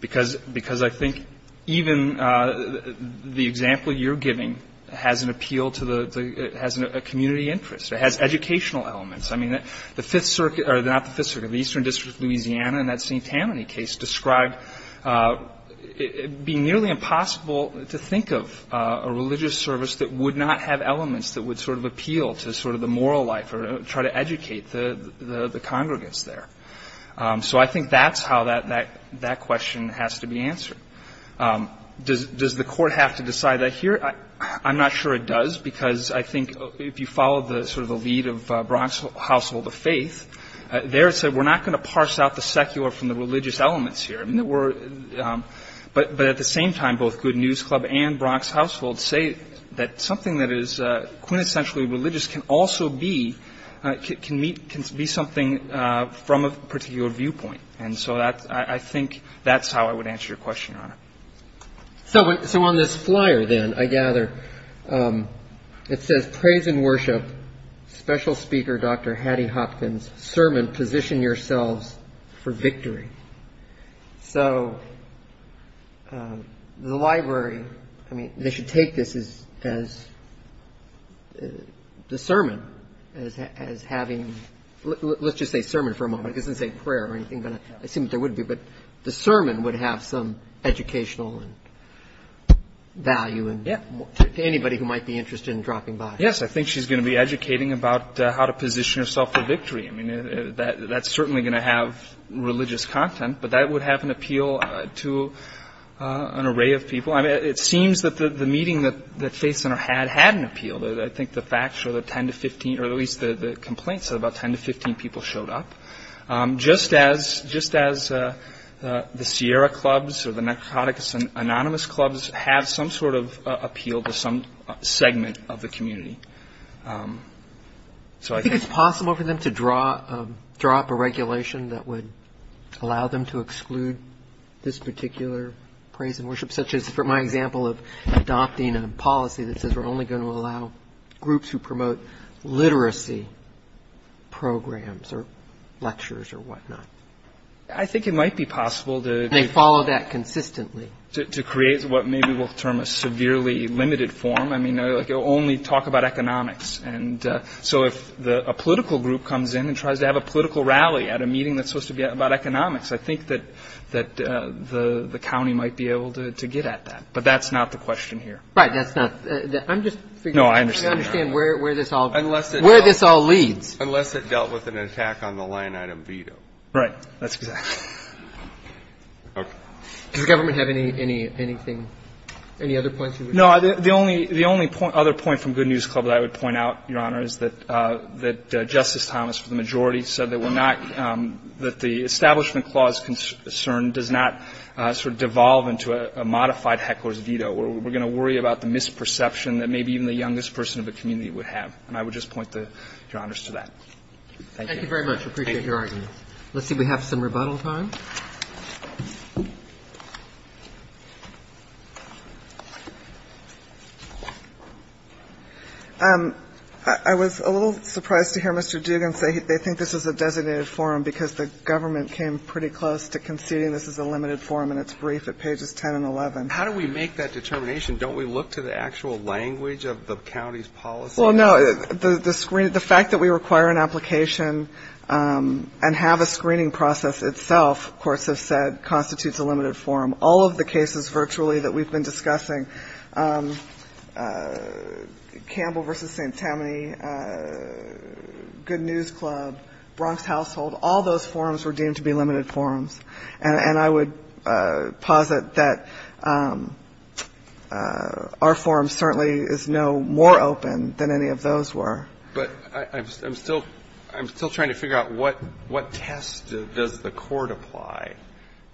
Because I think even the example you're giving has an appeal to the ---- has a community interest. It has educational elements. I mean, the Fifth Circuit or not the Fifth Circuit, the Eastern District of Louisiana in that St. Tammany case described it being nearly impossible to think of a religious service that would not have elements that would sort of appeal to sort of the moral life or try to educate the congregants there. So I think that's how that question has to be answered. Does the court have to decide that here? I'm not sure it does because I think if you follow the sort of the lead of Bronx Household of Faith, there it said we're not going to parse out the secular from the religious elements here. I mean, we're ---- But at the same time, both Good News Club and Bronx Household say that something that is quintessentially religious can also be ---- can meet ---- can be something from a particular viewpoint. And so that's ---- I think that's how I would answer your question, Your Honor. So on this flyer then, I gather, it says, Praise and Worship Special Speaker Dr. Hattie Hopkins, Sermon, Position Yourselves for Victory. So the library, I mean, they should take this as the sermon, as having ---- let's just say sermon for a moment. It doesn't say prayer or anything, but I assume there would be. But the sermon would have some educational value to anybody who might be interested in dropping by. Yes, I think she's going to be educating about how to position yourself for victory. I mean, that's certainly going to have religious content, but that would have an appeal to an array of people. I mean, it seems that the meeting that Faith Center had had an appeal. I think the facts show that 10 to 15, or at least the complaints said about 10 to 15 people showed up, just as the Sierra Clubs or the Narcoticus Anonymous Clubs have some sort of appeal to some segment of the community. So I think it's possible for them to draw up a regulation that would allow them to exclude this particular Praise and Worship, such as for my example of adopting a policy that says we're only going to allow groups who promote literacy programs or lectures or whatnot. I think it might be possible to ---- And they follow that consistently. To create what maybe we'll term a severely limited form. I mean, like you'll only talk about economics. And so if a political group comes in and tries to have a political rally at a meeting that's supposed to be about economics, I think that the county might be able to get at that. But that's not the question here. Right. That's not the ---- No, I understand. I understand where this all leads. Unless it dealt with an attack on the line item veto. That's exactly right. Does the government have anything, any other points you wish to make? No. The only other point from Good News Club that I would point out, Your Honor, is that Justice Thomas, for the majority, said that we're not ---- that the Establishment Clause concern does not sort of devolve into a modified heckler's veto. We're going to worry about the misperception that maybe even the youngest person of the community would have. And I would just point, Your Honors, to that. Thank you. Thank you very much. I appreciate your argument. Let's see if we have some rebuttal time. I was a little surprised to hear Mr. Duggan say they think this is a designated forum because the government came pretty close to conceding this is a limited forum and it's brief at pages 10 and 11. How do we make that determination? Don't we look to the actual language of the county's policy? Well, no. The fact that we require an application and have a screening process itself, courts have said, constitutes a limited forum. All of the cases virtually that we've been discussing, Campbell v. St. Tammany, Good News Club, Bronx Household, all those forums were deemed to be limited forums. And I would posit that our forum certainly is no more open than any of those were. But I'm still trying to figure out what test does the court apply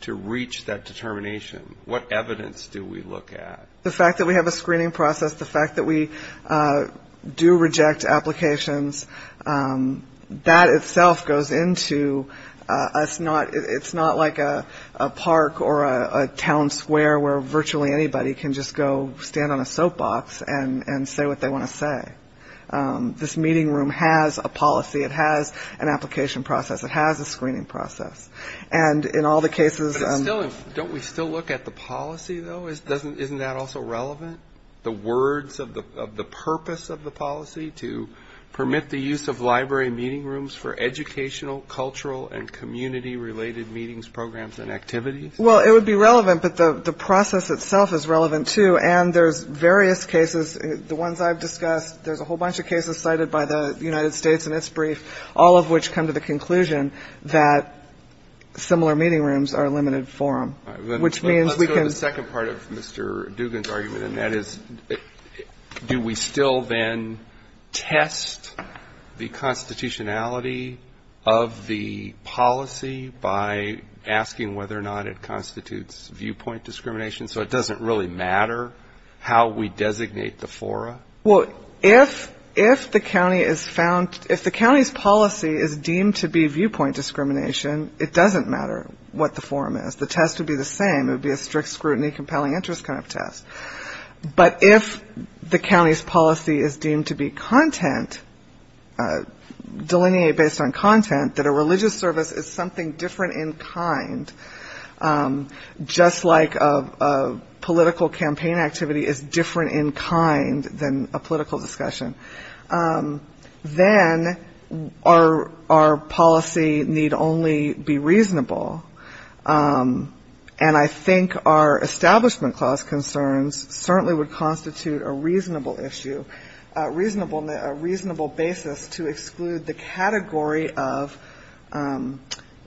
to reach that determination? What evidence do we look at? The fact that we have a screening process, the fact that we do reject applications, that itself goes into us not, it's not like a park or a town square where virtually anybody can just go stand on a soap box and say what they want to say. This meeting room has a policy. It has an application process. It has a screening process. And in all the cases of... But still, don't we still look at the policy, though? Isn't that also relevant? The words of the purpose of the policy, to permit the use of library meeting rooms for educational, cultural and community-related meetings, programs and activities? Well, it would be relevant, but the process itself is relevant, too. And there's various cases. The ones I've discussed, there's a whole bunch of cases cited by the United States in its brief, all of which come to the conclusion that similar meeting rooms are a limited forum, which means we can... That is, do we still then test the constitutionality of the policy by asking whether or not it constitutes viewpoint discrimination, so it doesn't really matter how we designate the forum? Well, if the county is found, if the county's policy is deemed to be viewpoint discrimination, it doesn't matter what the forum is. The test would be the same. It would be a strict scrutiny, compelling interest kind of test. But if the county's policy is deemed to be content, delineate based on content, that a religious service is something different in kind, just like a political campaign activity is different in kind than a political discussion, then our policy need only be reasonable. And I think our Establishment Clause concerns certainly would constitute a reasonable issue, a reasonable basis to exclude the category of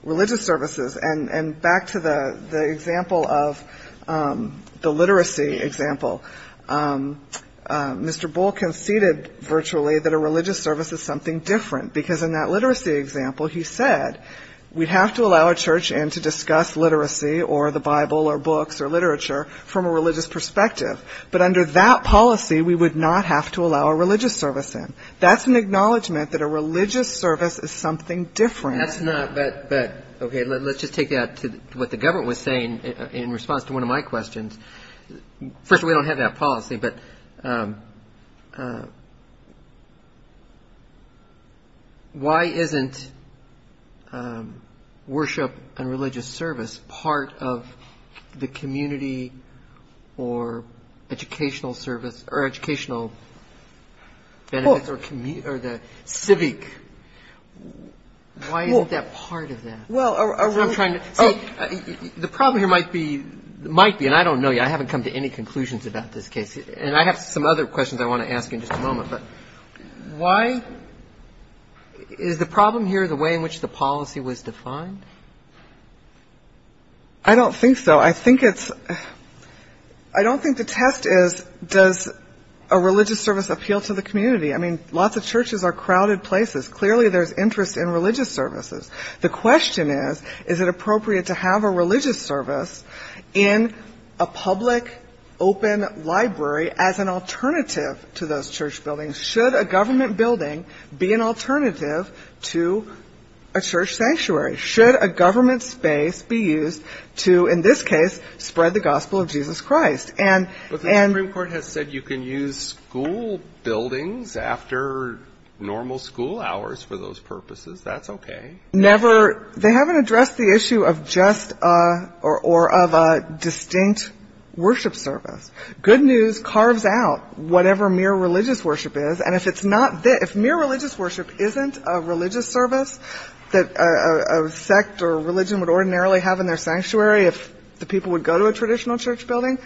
religious services. And back to the example of the literacy example, Mr. Bull conceded virtually that a religious service is something different, because in that literacy example he said we'd have to allow a church in to discuss literacy or the Bible or books or literature from a religious perspective. But under that policy, we would not have to allow a religious service in. That's an acknowledgment that a religious service is something different. That's not, but, okay, let's just take that to what the government was saying in response to one of my questions. First of all, we don't have that policy, but why isn't worship and religious service part of the community or educational service or educational benefits or the civic? Why isn't that part of that? Well, I'm trying to see the problem here might be, might be, and I don't know yet. I haven't come to any conclusions about this case, and I have some other questions I want to ask in just a moment. But why is the problem here the way in which the policy was defined? I don't think so. I think it's I don't think the test is does a religious service appeal to the community. I mean, lots of churches are crowded places. Clearly, there's interest in religious services. The question is, is it appropriate to have a religious service in a public open library as an alternative to those church buildings? Should a government building be an alternative to a church sanctuary? Should a government space be used to, in this case, spread the gospel of Jesus Christ? But the Supreme Court has said you can use school buildings after normal school hours for those purposes. That's okay. Never. They haven't addressed the issue of just or of a distinct worship service. Good news carves out whatever mere religious worship is. And if it's not, if mere religious worship isn't a religious service that a sect or a religion would ordinarily have in their sanctuary if the people would go to a traditional church building,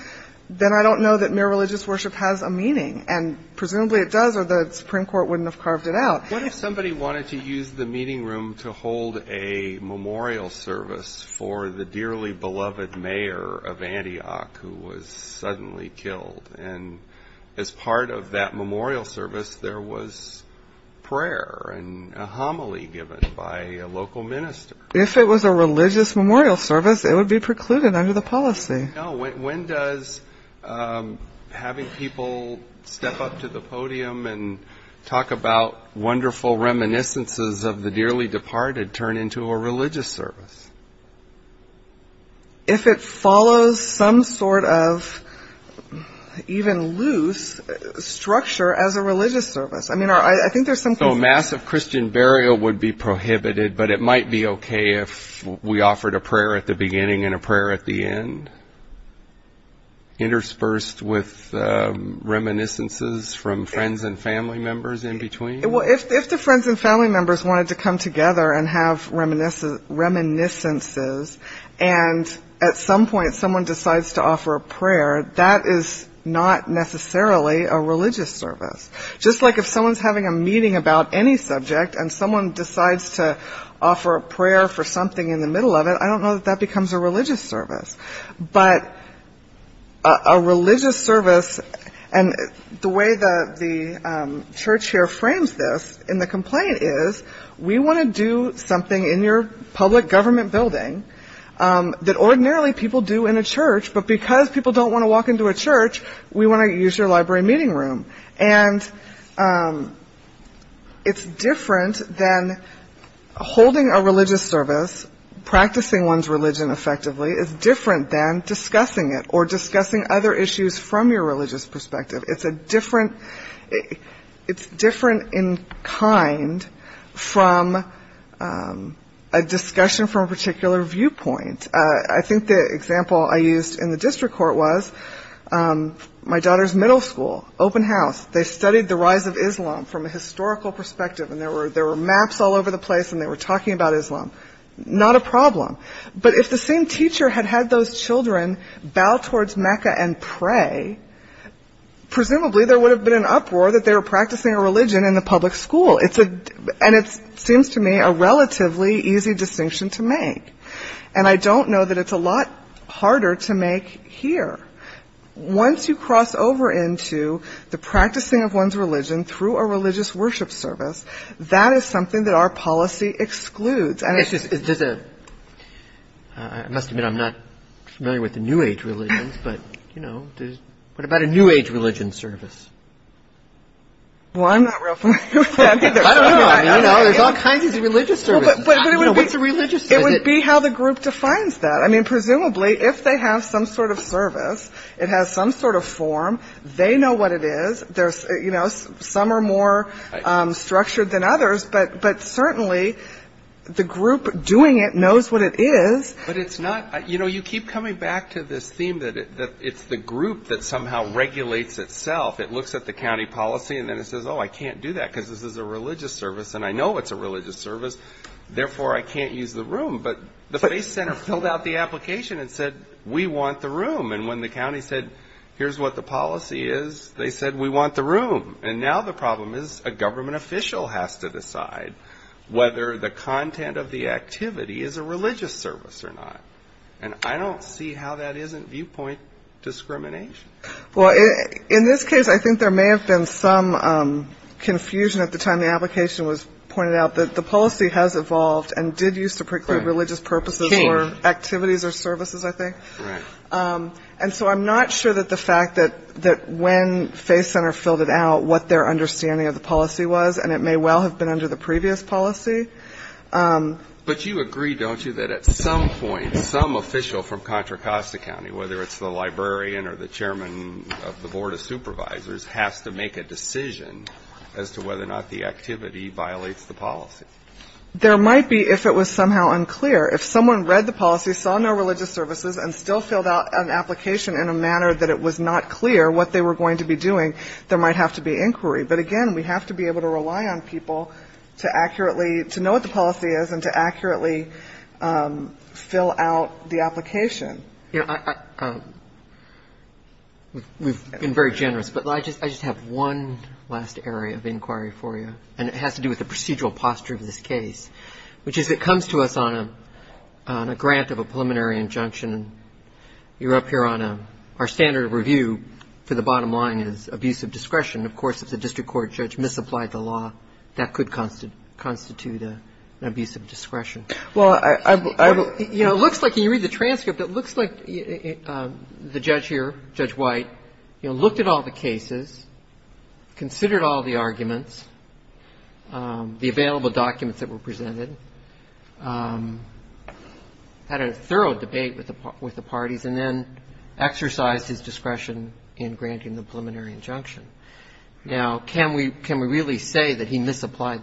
then I don't know that mere religious worship has a meaning. And presumably it does, or the Supreme Court wouldn't have carved it out. What if somebody wanted to use the meeting room to hold a memorial service for the dearly beloved mayor of Antioch who was suddenly killed? And as part of that memorial service, there was prayer and a homily given by a local minister. If it was a religious memorial service, it would be precluded under the policy. When does having people step up to the podium and talk about wonderful reminiscences of the dearly departed turn into a religious service? If it follows some sort of even loose structure as a religious service. So massive Christian burial would be prohibited, but it might be okay if we offered a prayer at the beginning and a prayer at the end? Interspersed with reminiscences from friends and family members in between? If the friends and family members wanted to come together and have reminiscences, and at some point someone decides to offer a prayer, that is not necessarily a religious service. Just like if someone is having a meeting about any subject and someone decides to offer a prayer for something in the middle of it, I don't know that that becomes a religious service. But a religious service, and the way the church here frames this in the complaint is, we want to do something in your public government building that ordinarily people do in a church, but because people don't want to walk into a church, we want to use your library meeting room. And it's different than holding a religious service, practicing one's religion effectively, it's different than discussing it or discussing other issues from your religious perspective. It's different in kind from a discussion from a particular viewpoint. I think the example I used in the district court was my daughter's middle school, open house. And they did the rise of Islam from a historical perspective, and there were maps all over the place and they were talking about Islam. Not a problem. But if the same teacher had had those children bow towards Mecca and pray, presumably there would have been an uproar that they were practicing a religion in the public school. And it seems to me a relatively easy distinction to make. And I don't know that it's a lot harder to make here. Once you cross over into the practicing of one's religion through a religious worship service, that is something that our policy excludes. And it's just a ‑‑ I must admit I'm not familiar with the new age religions, but, you know, what about a new age religion service? Well, I'm not real familiar with that either. I don't know. There's all kinds of religious services. It would be how the group defines that. I mean, presumably if they have some sort of service, it has some sort of form, they know what it is. Some are more structured than others, but certainly the group doing it knows what it is. But it's not ‑‑ you know, you keep coming back to this theme that it's the group that somehow regulates itself. It looks at the county policy, and then it says, oh, I can't do that because this is a religious service, and I know it's a religious service, therefore I can't use the room. But the FACE Center filled out the application and said, we want the room. And when the county said, here's what the policy is, they said, we want the room. And now the problem is a government official has to decide whether the content of the activity is a religious service or not. And I don't see how that isn't viewpoint discrimination. Well, in this case, I think there may have been some confusion at the time the application was pointed out that the policy has evolved and did use to preclude religious purposes or activities or services, I think. And so I'm not sure that the fact that when FACE Center filled it out, what their understanding of the policy was, and it may well have been under the previous policy. But you agree, don't you, that at some point some official from Contra Costa County, whether it's the librarian or the chairman of the Board of Supervisors, has to make a decision as to whether or not the activity violates the policy? There might be if it was somehow unclear. If someone read the policy, saw no religious services, and still filled out an application in a manner that it was not clear what they were going to be doing, there might have to be inquiry. But again, we have to be able to rely on people to accurately to know what the policy is and to accurately fill out the application. We've been very generous, but I just have one last area of inquiry for you. And it has to do with the procedural posture of this case, which is it comes to us on a grant of a preliminary injunction. You're up here on our standard of review for the bottom line is abusive discretion. Of course, if the district court judge misapplied the law, that could constitute an abusive discretion. Well, it looks like, when you read the transcript, it looks like the judge here, Judge White, looked at all the cases, considered all the arguments, the available documents that were presented, had a thorough debate with the parties, and then exercised his discretion in granting the preliminary injunction. Now, can we really say that he misapplied,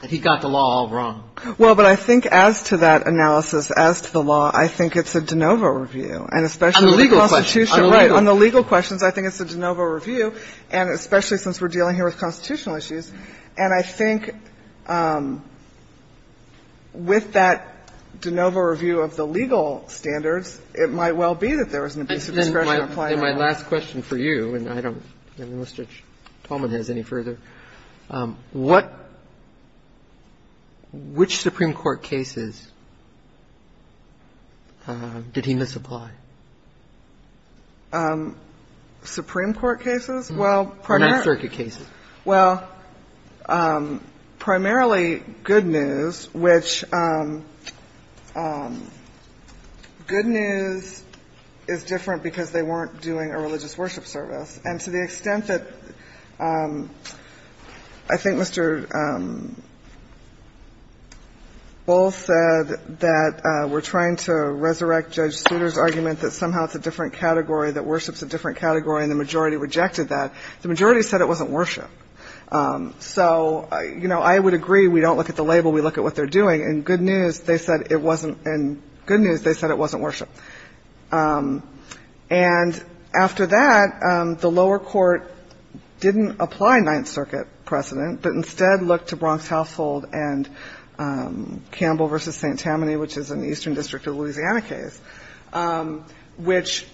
that he got the law all wrong? Well, but I think as to that analysis, as to the law, I think it's a de novo review. And especially with the Constitution. On the legal question. Right. On the legal questions, I think it's a de novo review, and especially since we're dealing here with constitutional issues. And I think with that de novo review of the legal standards, it might well be that there was an abusive discretion. And my last question for you, and I don't know if Mr. Tolman has any further. What – which Supreme Court cases did he misapply? Supreme Court cases? Well, pardon me? Ninth Circuit cases. Well, primarily good news, which good news is different because they weren't doing a religious worship service. And to the extent that I think Mr. Bowles said that we're trying to resurrect Judge Souter's argument that somehow it's a different So, you know, I would agree. We don't look at the label. We look at what they're doing. And good news, they said it wasn't – and good news, they said it wasn't worship. And after that, the lower court didn't apply Ninth Circuit precedent, but instead looked to Bronx Household and Campbell v. St. Tammany, which is an Eastern District of Louisiana case, which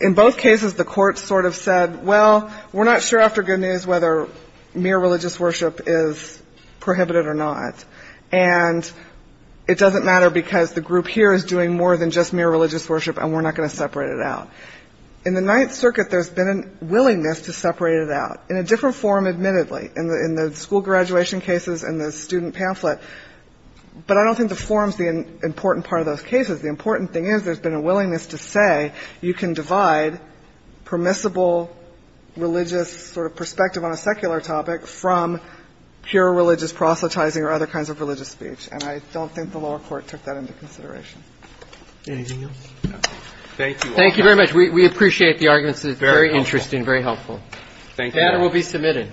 in both cases, the court sort of said, well, we're not sure after good news whether mere religious worship is prohibited or not. And it doesn't matter because the group here is doing more than just mere religious worship and we're not going to separate it out. In the Ninth Circuit, there's been a willingness to separate it out in a different form, admittedly, in the school graduation cases and the student pamphlet. But I don't think the form is the important part of those cases. The important thing is there's been a willingness to say you can divide permissible religious sort of perspective on a secular topic from pure religious proselytizing or other kinds of religious speech. And I don't think the lower court took that into consideration. Anything else? Thank you all. Thank you very much. We appreciate the arguments. It's very interesting, very helpful. Thank you. The matter will be submitted.